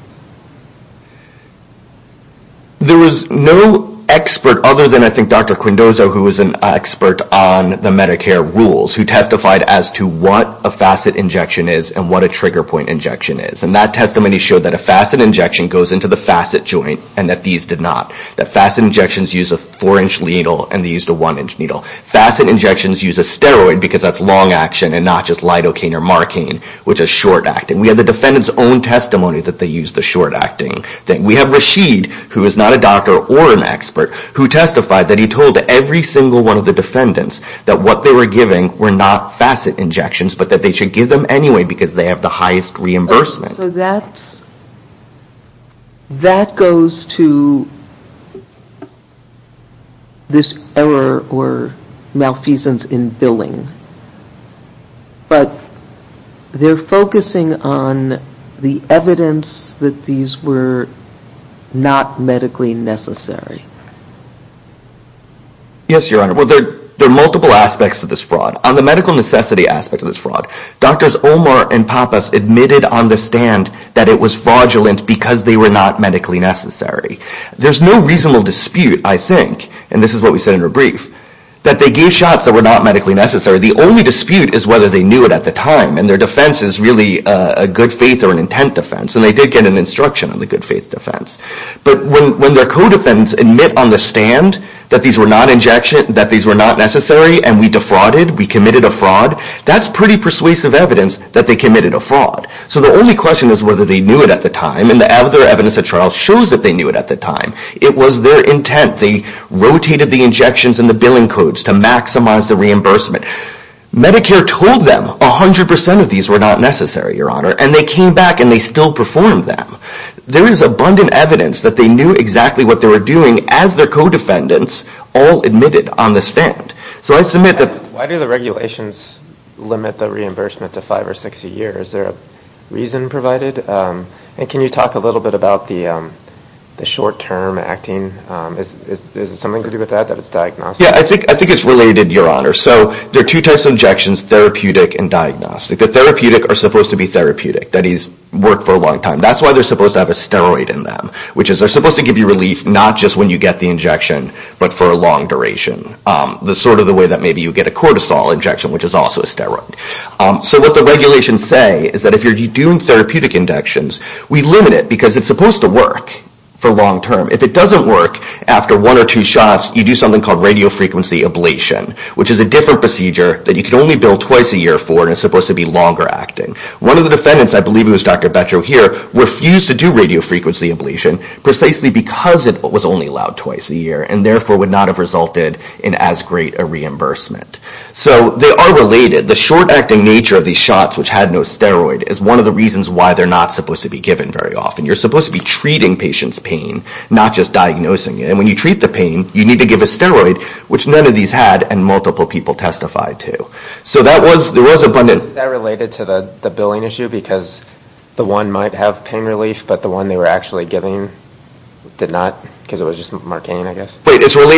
There was no expert other than I think Dr. Quindozo who was an expert on the Medicare rules who testified as to what a facet injection is and what a trigger point injection is. And that testimony showed that a facet injection goes into the facet joint and that these did not. That facet injections used a 4-inch needle and they used a 1-inch needle. Facet injections use a steroid because that's long action and not just lidocaine or marcaine which is short-acting. We have the defendant's own testimony that they used the short-acting thing. We have Rashid who is not a doctor or an expert who testified that he told every single one of the defendants that what they were giving were not facet injections but that they should give them anyway because they have the highest reimbursement. That goes to this error or malfeasance in billing. But they're focusing on the evidence that these were not medically necessary. Yes, Your Honor. Well, there are multiple aspects to this fraud. On the medical necessity aspect of this fraud, Drs. Omar and Pappas admitted on the stand that it was fraudulent because they were not medically necessary. There's no reasonable dispute, I think, and this is what we said in her brief, that they gave shots that were not medically necessary. The only dispute is whether they knew it at the time and their defense is really a good faith or an intent defense. And they did get an instruction on the good faith defense. But when their co-defendants admit on the stand that these were not necessary and we defrauded, we committed a fraud, that's pretty persuasive evidence that they committed a fraud. So the only question is whether they knew it at the time and the evidence at trial shows that they knew it at the time. It was their intent. They rotated the injections and the billing codes to maximize the reimbursement. Medicare told them 100% of these were not necessary, Your Honor, and they came back and they still performed them. There is abundant evidence that they knew exactly what they were doing as their co-defendants all admitted on the stand. So I submit that... Why do the regulations limit the reimbursement to five or six a year? Is there a reason provided? And can you talk a little bit about the short-term acting? Is it something to do with that, that it's diagnostic? Yeah, I think it's related, Your Honor. So there are two types of injections, therapeutic and diagnostic. The therapeutic are supposed to be therapeutic, that is, work for a long time. That's why they're supposed to have a steroid in them, which is they're supposed to give you relief not just when you get the injection, but for a long duration. Sort of the way that maybe you get a cortisol injection, which is also a steroid. So what the regulations say is that if you're doing therapeutic injections, we limit it because it's supposed to work for long term. If it doesn't work after one or two shots, you do something called radiofrequency ablation, which is a different procedure that you can only bill twice a year for and is supposed to be longer acting. One of the defendants, I believe it was Dr. Betro here, refused to do radiofrequency ablation precisely because it was only allowed twice a year and therefore would not have resulted in as great a reimbursement. So they are related. The short-acting nature of these shots, which had no steroid, is one of the reasons why they're not supposed to be given very often. You're supposed to be treating patients' pain, not just diagnosing it. And when you treat the pain, you need to give a steroid, which none of these had and multiple people testified to. So that was abundant. Is that related to the billing issue? Because the one might have pain relief, but the one they were actually giving did not? Because it was just Marcane, I guess? That's one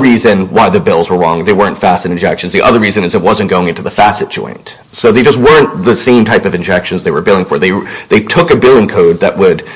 reason why the bills were wrong. They weren't facet injections. The other reason is it wasn't going into the facet joint. So they just weren't the same type of injections they were billing for. They took a billing code that would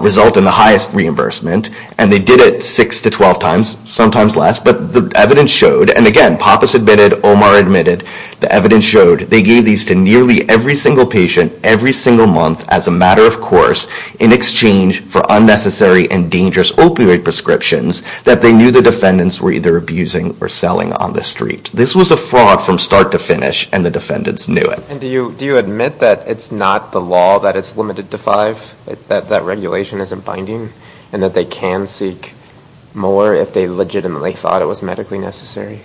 result in the highest reimbursement and they did it 6 to 12 times, sometimes less. But the evidence showed, and again, Pappas admitted, Omar admitted, the evidence showed they gave these to nearly every single patient every single month as a matter of course in exchange for unnecessary and dangerous opioid prescriptions that they knew the defendants were either abusing or selling on the street. This was a fraud from start to finish and the defendants knew it. And do you admit that it's not the law that it's limited to five? That regulation isn't binding? And that they can seek more if they legitimately thought it was medically necessary?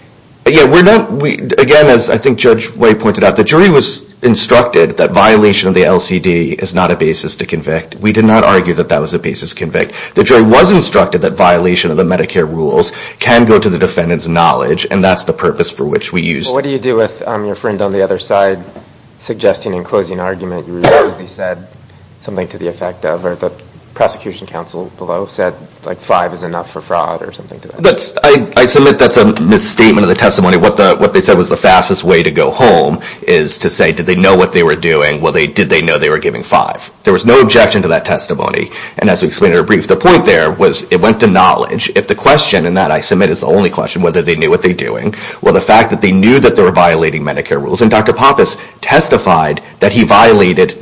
Again, as I think Judge White pointed out, the jury was instructed that violation of the LCD is not a basis to convict. We did not argue that that was a basis to convict. The jury was instructed that violation of the Medicare rules can go to the defendants' knowledge and that's the purpose for which we used it. Well, what do you do with your friend on the other side suggesting and closing an argument you recently said something to the effect of or the prosecution counsel below said like five is enough for fraud or something? I submit that's a misstatement of the testimony. What they said was the fastest way to go home is to say did they know what they were doing? Well, did they know they were giving five? There was no objection to that testimony. And as we explained in our brief, the point there was it went to knowledge. If the question, and that I submit is the only question, whether they knew what they were doing or the fact that they knew that they were violating Medicare rules. And Dr. Pappas testified that he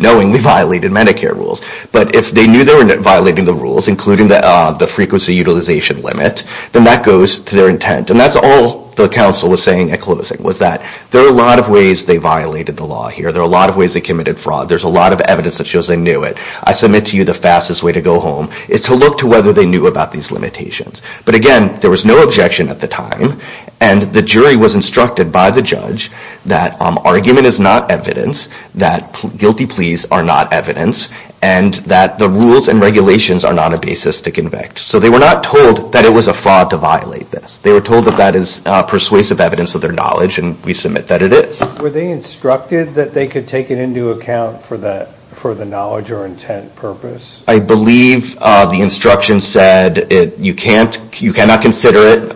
knowingly violated Medicare rules. But if they knew they were violating the rules, including the frequency utilization limit, then that goes to their intent. And that's all the counsel was saying at closing was that there are a lot of ways they violated the law here. There are a lot of ways they committed fraud. There's a lot of evidence that shows they knew it. I submit to you the fastest way to go home is to look to whether they knew about these limitations. But again, there was no objection at the time. And the jury was instructed by the judge that argument is not evidence, that guilty pleas are not evidence, and that the rules and regulations are not a basis to convict. So they were not told that it was a fraud to violate this. They were told that that is persuasive evidence of their knowledge, and we submit that it is. Were they instructed that they could take it into account for the knowledge or intent purpose? I believe the instruction said you cannot consider it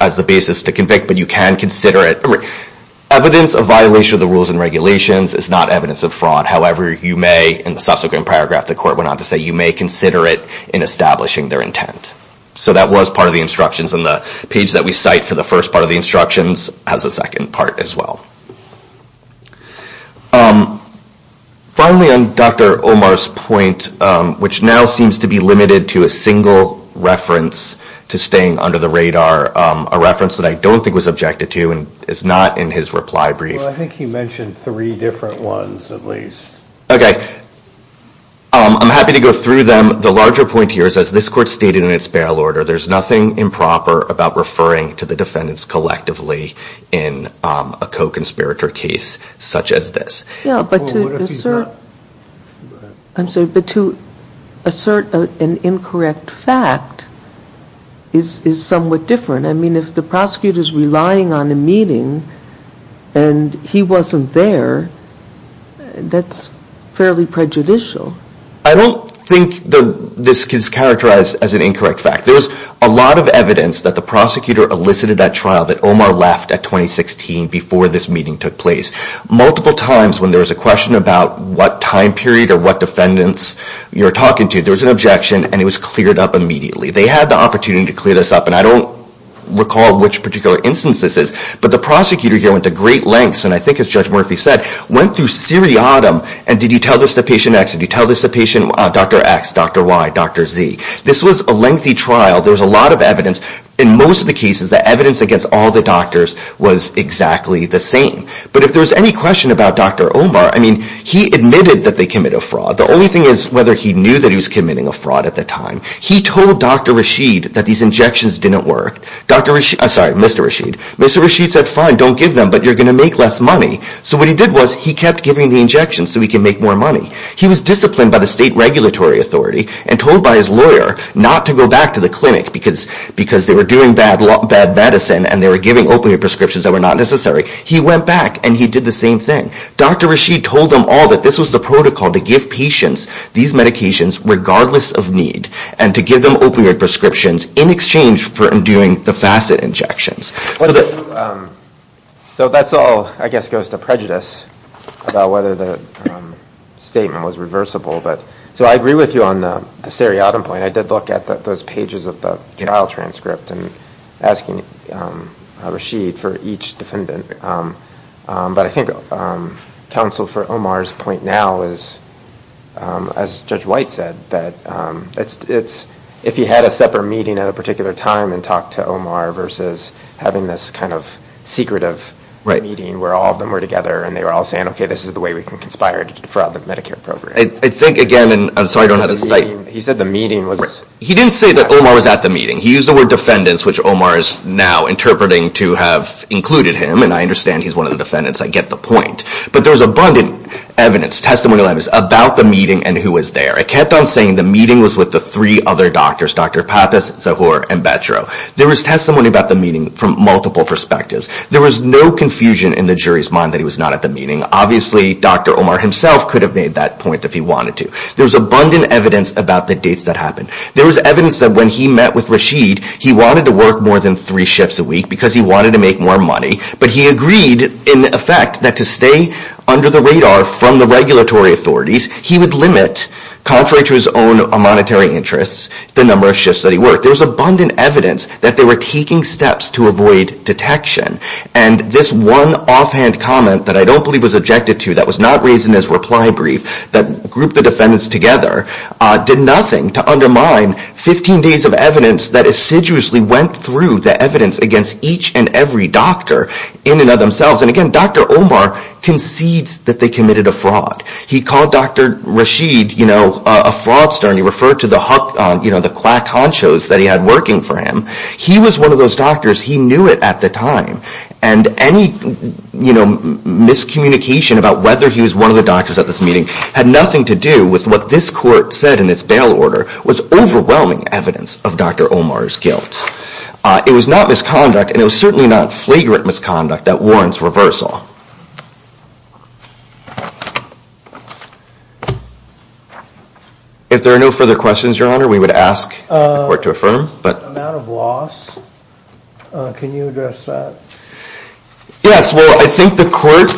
as the basis to convict, but you can consider it. Evidence of violation of the rules and regulations is not evidence of fraud. However, you may, in the subsequent paragraph the court went on to say, you may consider it in establishing their intent. So that was part of the instructions, and the page that we cite for the first part of the instructions has a second part as well. Finally, on Dr. Omar's point, which now seems to be limited to a single reference to staying under the radar, a reference that I don't think was objected to and is not in his reply brief. I'm happy to go through them. The larger point here is, as this court stated in its bail order, there's nothing improper about referring to the defendants collectively in a co-conspirator case such as this. Yeah, but to assert an incorrect fact is somewhat different. I mean, if the prosecutor is relying on a meeting and he wasn't there, that's fairly prejudicial. I don't think the reference to staying under the radar is characterized as an incorrect fact. There's a lot of evidence that the prosecutor elicited at trial that Omar left at 2016 before this meeting took place. Multiple times when there was a question about what time period or what defendants you're talking to, there was an objection and it was cleared up immediately. They had the opportunity to clear this up, and I don't recall which particular instance this is, but the prosecutor here went to great lengths, and I think as Judge Murphy said, went through seriatim and did you tell this to patient X, did you tell this to patient Dr. X, Dr. Y, Dr. Z. This was a lengthy trial. There was a lot of evidence. In most of the cases, the evidence against all the doctors was exactly the same. But if there was any question about Dr. Omar, I mean, he admitted that they committed a fraud. The only thing is whether he knew that he was committing a fraud at the time. He told Dr. Rashid that these injections didn't work. Sorry, Mr. Rashid. Mr. Rashid said, fine, don't give them, but you're going to make less money. So what he did was he kept giving the injections so he could make more money. He was disciplined by the state regulatory authority and told by his lawyer not to go back to the clinic because they were doing bad medicine and they were giving opioid prescriptions that were not necessary. He went back and he did the same thing. Dr. Rashid told them all that this was the protocol to give patients these medications regardless of need and to give them opioid prescriptions in exchange for doing the facet injections. So that's all, I guess, goes to prejudice about whether the statement was reversible. So I agree with you on the seriatim point. I did look at those pages of the trial transcript and asking Rashid for each defendant. But I think counsel for Omar's point now is, as Judge White said, that if he had a separate meeting at a particular time and talked to Omar versus having this secretive meeting where all of them were together and they were all saying, okay, this is the way we can conspire to defraud the Medicare program. He didn't say that Omar was at the meeting. He used the word defendants, which Omar is now interpreting to have included him. And I understand he's one of the defendants. I get the point. But there was abundant evidence, testimonial evidence, about the meeting and who was there. I kept on saying the meeting was with the three other doctors, Dr. Pappas, Zahor, and Betro. There was testimony about the meeting from multiple perspectives. There was no confusion in the jury's mind that he was not at the meeting. Obviously, Dr. Omar himself could have made that point if he wanted to. There was abundant evidence about the dates that happened. There was evidence that when he met with Rashid, he wanted to work more than three shifts a week because he wanted to make more money. But he agreed, in effect, that to stay under the radar from the regulatory authorities, he would limit, contrary to his own monetary interests, the number of shifts that he worked. There was abundant evidence that they were taking steps to avoid detection. And this one offhand comment that I don't believe was objected to that was not raised in his reply brief that grouped the defendants together did nothing to undermine 15 days of evidence that assiduously went through the evidence against each and every doctor in and of themselves. And again, Dr. Omar concedes that they committed a fraud. He called Dr. Rashid a fraudster and he referred to the quack honchos that he had working for him. He was one of those doctors. He knew it at the time. And any miscommunication about whether he was one of the doctors at this meeting had nothing to do with what this court said in its bail order was overwhelming evidence of Dr. Omar's guilt. It was not misconduct and it was certainly not flagrant misconduct that warrants reversal. If there are no further questions, Your Honor, we would ask the court to affirm. The amount of loss, can you address that? Yes. Well, I think the court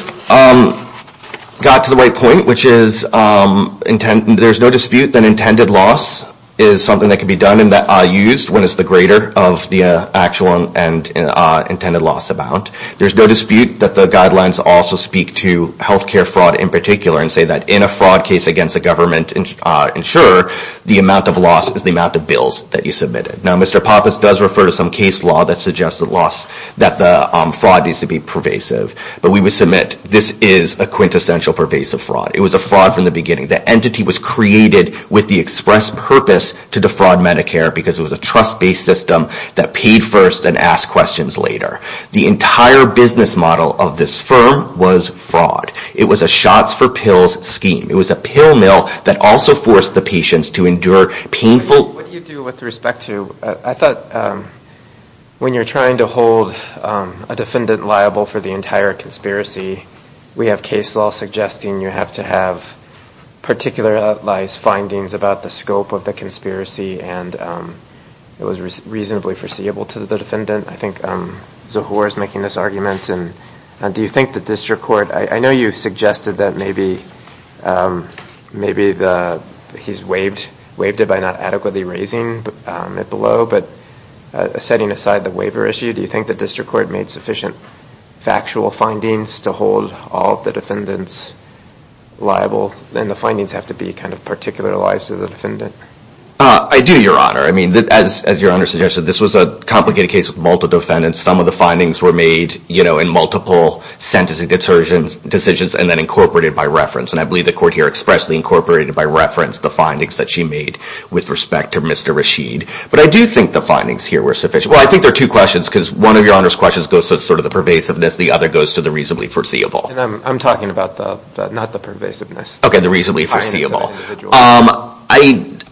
got to the right point which is there's no dispute that intended loss is something that can be done and used when it's the greater of the actual and intended loss amount. There's no dispute that the guidelines also speak to health care fraud in particular and say that in a fraud case against a government insurer the amount of loss is the amount of bills that you submitted. Now, Mr. Pappas does refer to some case law that suggests that the fraud needs to be pervasive. But we would submit this is a quintessential pervasive fraud. It was a fraud from the beginning. The entity was created with the express purpose to defraud Medicare because it was a trust-based system that paid first and asked questions later. The entire business model of this firm was fraud. It was a shots for pills scheme. It was a pill mill that also forced the patients to endure painful... What do you do with respect to... I thought when you're trying to hold a defendant liable for the entire conspiracy, we have case law suggesting you have to have particularized findings about the scope of the conspiracy and it was reasonably foreseeable to the defendant. I think Zohor is making this argument. Do you think the district court... I know you suggested that maybe he's waived it by not adequately raising it below, but setting aside the waiver issue, do you think the district court made sufficient factual findings to hold all of the defendants liable and the findings have to be kind of particularized to the defendant? I do, Your Honor. I mean, as Your Honor suggested, this was a complicated case with multiple defendants. Some of the findings were made in multiple sentencing decisions and then incorporated by reference. And I believe the court here expressly incorporated by reference the findings that she made with respect to Mr. Rashid. But I do think the findings here were sufficient. Well, I think there are two questions because one of Your Honor's questions goes to sort of the pervasiveness. The other goes to the reasonably foreseeable. I'm talking about not the pervasiveness. Okay, the reasonably foreseeable.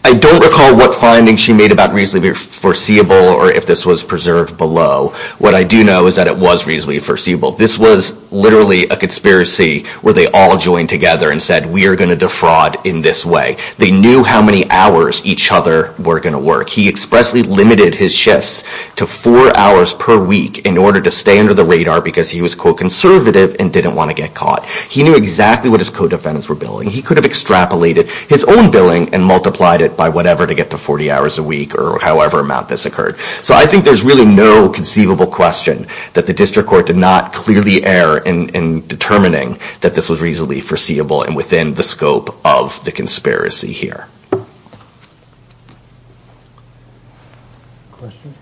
I don't recall what findings she made about reasonably foreseeable or if this was preserved below. What I do know is that it was reasonably foreseeable. This was literally a conspiracy where they all joined together and said, we are going to defraud in this way. They knew how many hours each other were going to work. He expressly limited his shifts to four hours per week in order to stay under the radar because he was, quote, He knew exactly what his co-defendants were billing. He could have extrapolated his own billing and multiplied it by whatever to get to 40 hours a week or however amount this occurred. So I think there's really no conceivable question that the district court did not clearly err in determining that this was reasonably foreseeable and within the scope of the conspiracy here. Questions?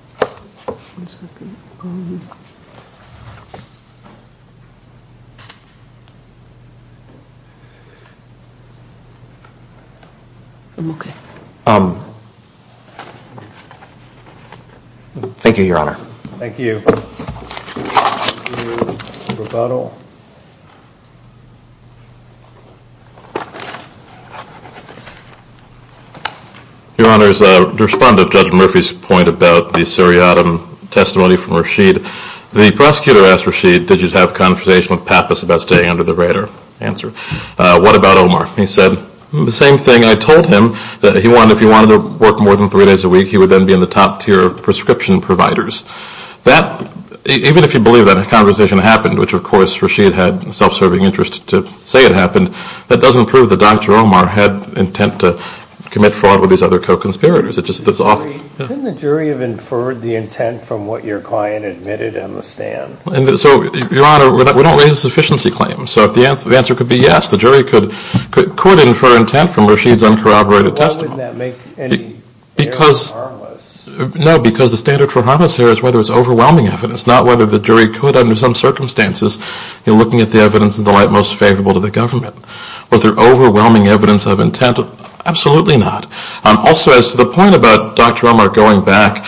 I'm okay. Thank you, Your Honor. Thank you. Your Honor, to respond to Judge Murphy's point about the seriatim testimony from Rasheed, the prosecutor asked Rasheed, did you have a conversation with Pat Miller about this? Pat was about staying under the radar, answer. What about Omar? He said the same thing. I told him that if he wanted to work more than three days a week, he would then be in the top tier of prescription providers. Even if you believe that a conversation happened, which of course Rasheed had self-serving interest to say it happened, that doesn't prove that Dr. Omar had intent to commit fraud with these other co-conspirators. Couldn't the jury have inferred the intent from what your client admitted on the stand? Your Honor, we don't raise a sufficiency claim. So the answer could be yes, the jury could infer intent from Rasheed's uncorroborated testimony. Why wouldn't that make any evidence harmless? No, because the standard for harmless here is whether it's overwhelming evidence, not whether the jury could under some circumstances, looking at the evidence in the light most favorable to the government. Was there overwhelming evidence of intent? Absolutely not. Also, as to the point about Dr. Omar going back,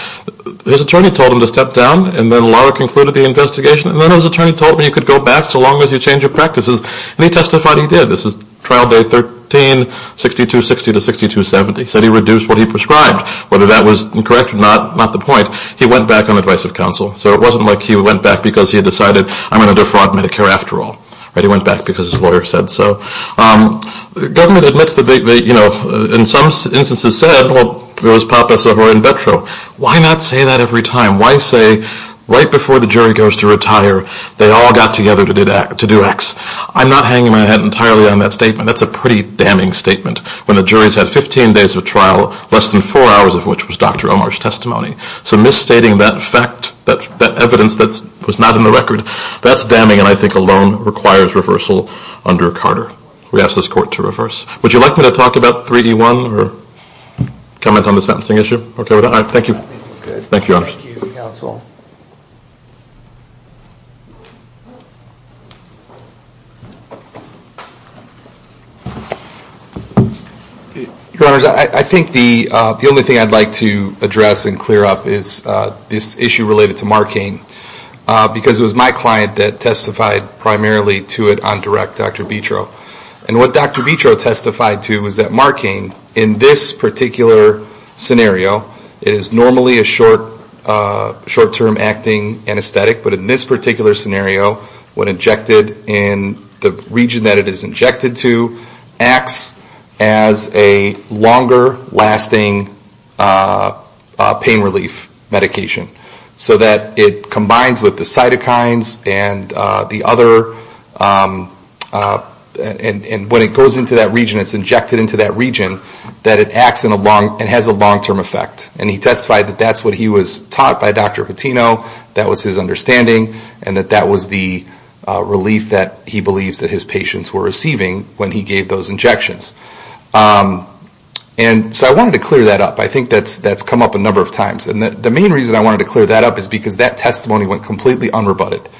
his attorney told him to step down, and then Lara concluded the investigation, and then his attorney told him he could go back so long as he changed his practices, and he testified he did. This is trial day 13, 6260 to 6270. He said he reduced what he prescribed, whether that was correct or not, not the point. He went back on advice of counsel, so it wasn't like he went back because he had decided, I'm going to defraud Medicare after all. He went back because his lawyer said so. The government admits that they, in some instances, said, well, there was potpourri in vetro. Why not say that every time? Why say right before the jury goes to retire, they all got together to do X? I'm not hanging my head entirely on that statement. That's a pretty damning statement when the jury's had 15 days of trial, less than four hours of which was Dr. Omar's testimony. So misstating that fact, that evidence that was not in the record, that's damning, and I think alone requires reversal under Carter. We ask this court to reverse. Would you like me to talk about 3E1 or comment on the sentencing issue? All right. Thank you. Thank you, Your Honors. Thank you, Counsel. Your Honors, I think the only thing I'd like to address and clear up is this issue related to Markain because it was my client that testified primarily to it on direct, Dr. Vitro. And what Dr. Vitro testified to was that Markain, in this particular scenario, it is normally a short-term acting anesthetic, but in this particular scenario, when injected in the region that it is injected to, acts as a longer-lasting pain relief medication. So that it combines with the cytokines and the other, and when it goes into that region, it's injected into that region, that it acts and has a long-term effect. And he testified that that's what he was taught by Dr. Pitino, that was his understanding, and that that was the relief that he believes that his patients were receiving when he gave those injections. And so I wanted to clear that up. I think that's come up a number of times. And the main reason I wanted to clear that up is because that testimony went completely unrebutted.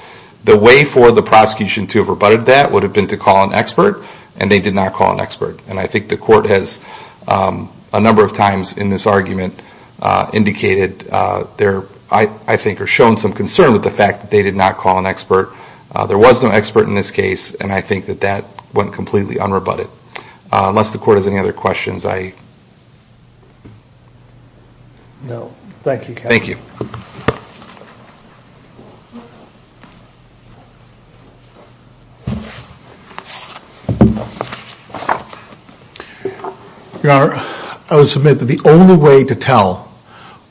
The way for the prosecution to have rebutted that would have been to call an expert, and they did not call an expert. And I think the court has, a number of times in this argument, indicated or shown some concern with the fact that they did not call an expert. There was no expert in this case, and I think that that went completely unrebutted. Unless the court has any other questions, I... No. Thank you, Kevin. Thank you. Your Honor, I would submit that the only way to tell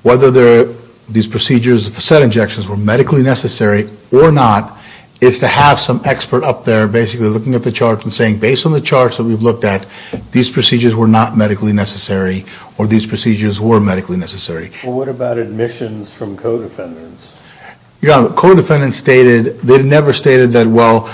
whether these procedures, the set injections, were medically necessary or not is to have some expert up there basically looking at the charts and saying, based on the charts that we've looked at, these procedures were not medically necessary or these procedures were medically necessary. Well, what about admissions from co-defendants? Your Honor, co-defendants stated... They never stated that, well,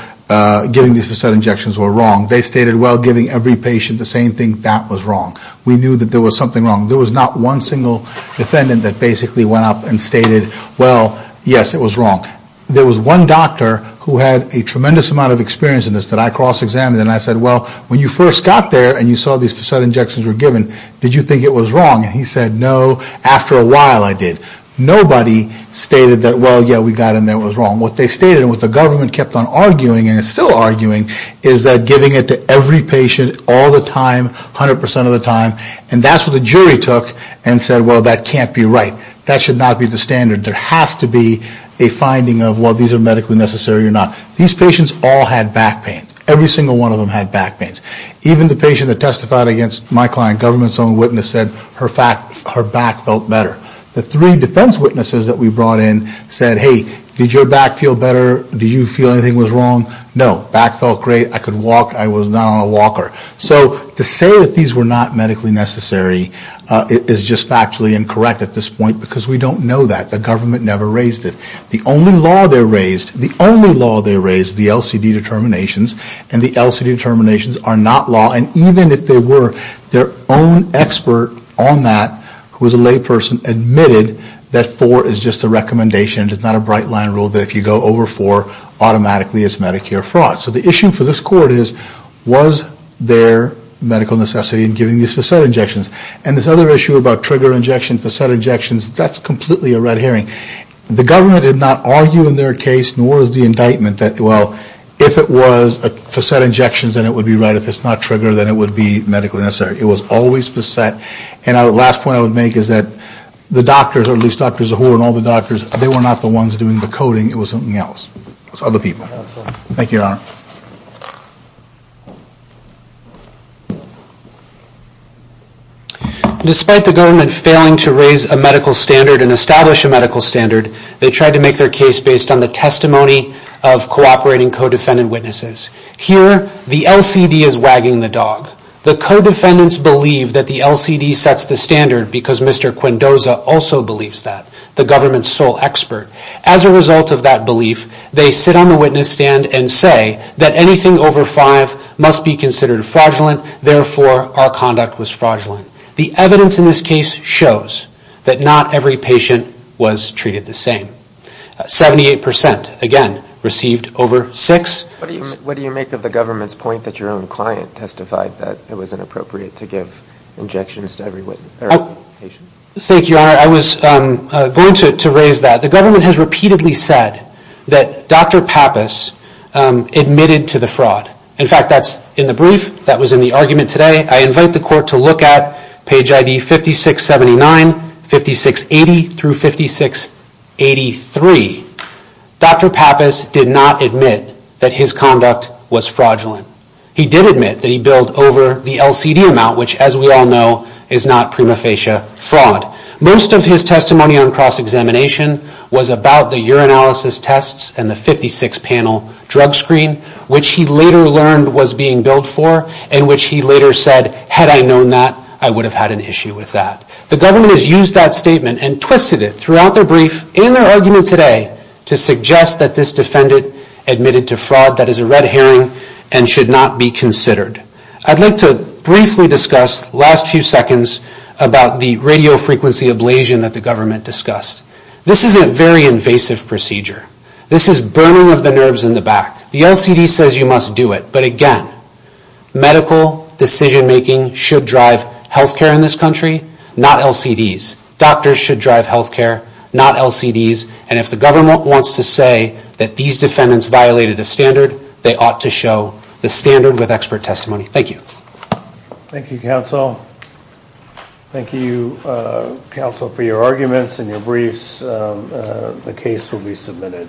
giving these set injections were wrong. They stated, well, giving every patient the same thing, that was wrong. We knew that there was something wrong. There was not one single defendant that basically went up and stated, well, yes, it was wrong. There was one doctor who had a tremendous amount of experience in this that I cross-examined and I said, well, when you first got there and you saw these set injections were given, did you think it was wrong? And he said, no, after a while I did. Nobody stated that, well, yeah, we got in there, it was wrong. What they stated and what the government kept on arguing and is still arguing is that giving it to every patient all the time, 100% of the time, and that's what the jury took and said, well, that can't be right. That should not be the standard. There has to be a finding of, well, these are medically necessary or not. These patients all had back pains. Every single one of them had back pains. Even the patient that testified against my client, government's own witness, said her back felt better. The three defense witnesses that we brought in said, hey, did your back feel better? Did you feel anything was wrong? No, back felt great. I could walk. I was not on a walker. So to say that these were not medically necessary is just factually incorrect at this point because we don't know that. The government never raised it. The only law they raised, the only law they raised, the LCD determinations, and the LCD determinations are not law. And even if they were, their own expert on that who was a layperson admitted that four is just a recommendation. It's not a bright line rule that if you go over four, automatically it's Medicare fraud. So the issue for this court is, was there medical necessity in giving these facet injections? And this other issue about trigger injections, facet injections, that's completely a red herring. The government did not argue in their case nor was the indictment that, well, if it was facet injections, then it would be right. If it's not trigger, then it would be medically necessary. It was always facet. And the last point I would make is that the doctors, or at least Dr. Zahur and all the doctors, they were not the ones doing the coding. It was something else. It was other people. Thank you, Your Honor. Despite the government failing to raise a medical standard and establish a medical standard, they tried to make their case based on the testimony of cooperating co-defendant witnesses. Here, the LCD is wagging the dog. The co-defendants believe that the LCD sets the standard because Mr. Quendoza also believes that, the government's sole expert. As a result of that belief, they sit on the witness stand and say that anything over 5 must be considered fraudulent. Therefore, our conduct was fraudulent. The evidence in this case shows that not every patient was treated the same. 78%, again, received over 6. What do you make of the government's point that your own client testified that it was inappropriate to give injections to every patient? Thank you, Your Honor. I was going to raise that. The government has repeatedly said that Dr. Pappas admitted to the fraud. In fact, that's in the brief that was in the argument today. I invite the court to look at page ID 5679, 5680 through 5683. Dr. Pappas did not admit that his conduct was fraudulent. He did admit that he billed over the LCD amount, which, as we all know, is not prima facie fraud. Most of his testimony on cross-examination was about the urinalysis tests and the 56-panel drug screen, which he later learned was being billed for and which he later said, had I known that, I would have had an issue with that. The government has used that statement and twisted it throughout their brief and their argument today to suggest that this defendant admitted to fraud that is a red herring and should not be considered. I'd like to briefly discuss the last few seconds about the radiofrequency ablation that the government discussed. This is a very invasive procedure. This is burning of the nerves in the back. The LCD says you must do it, but again, medical decision-making should drive healthcare in this country, not LCDs. Doctors should drive healthcare, not LCDs. And if the government wants to say that these defendants violated a standard, they ought to show the standard with expert testimony. Thank you. Thank you, counsel. Thank you, counsel, for your arguments and your briefs. The case will be submitted.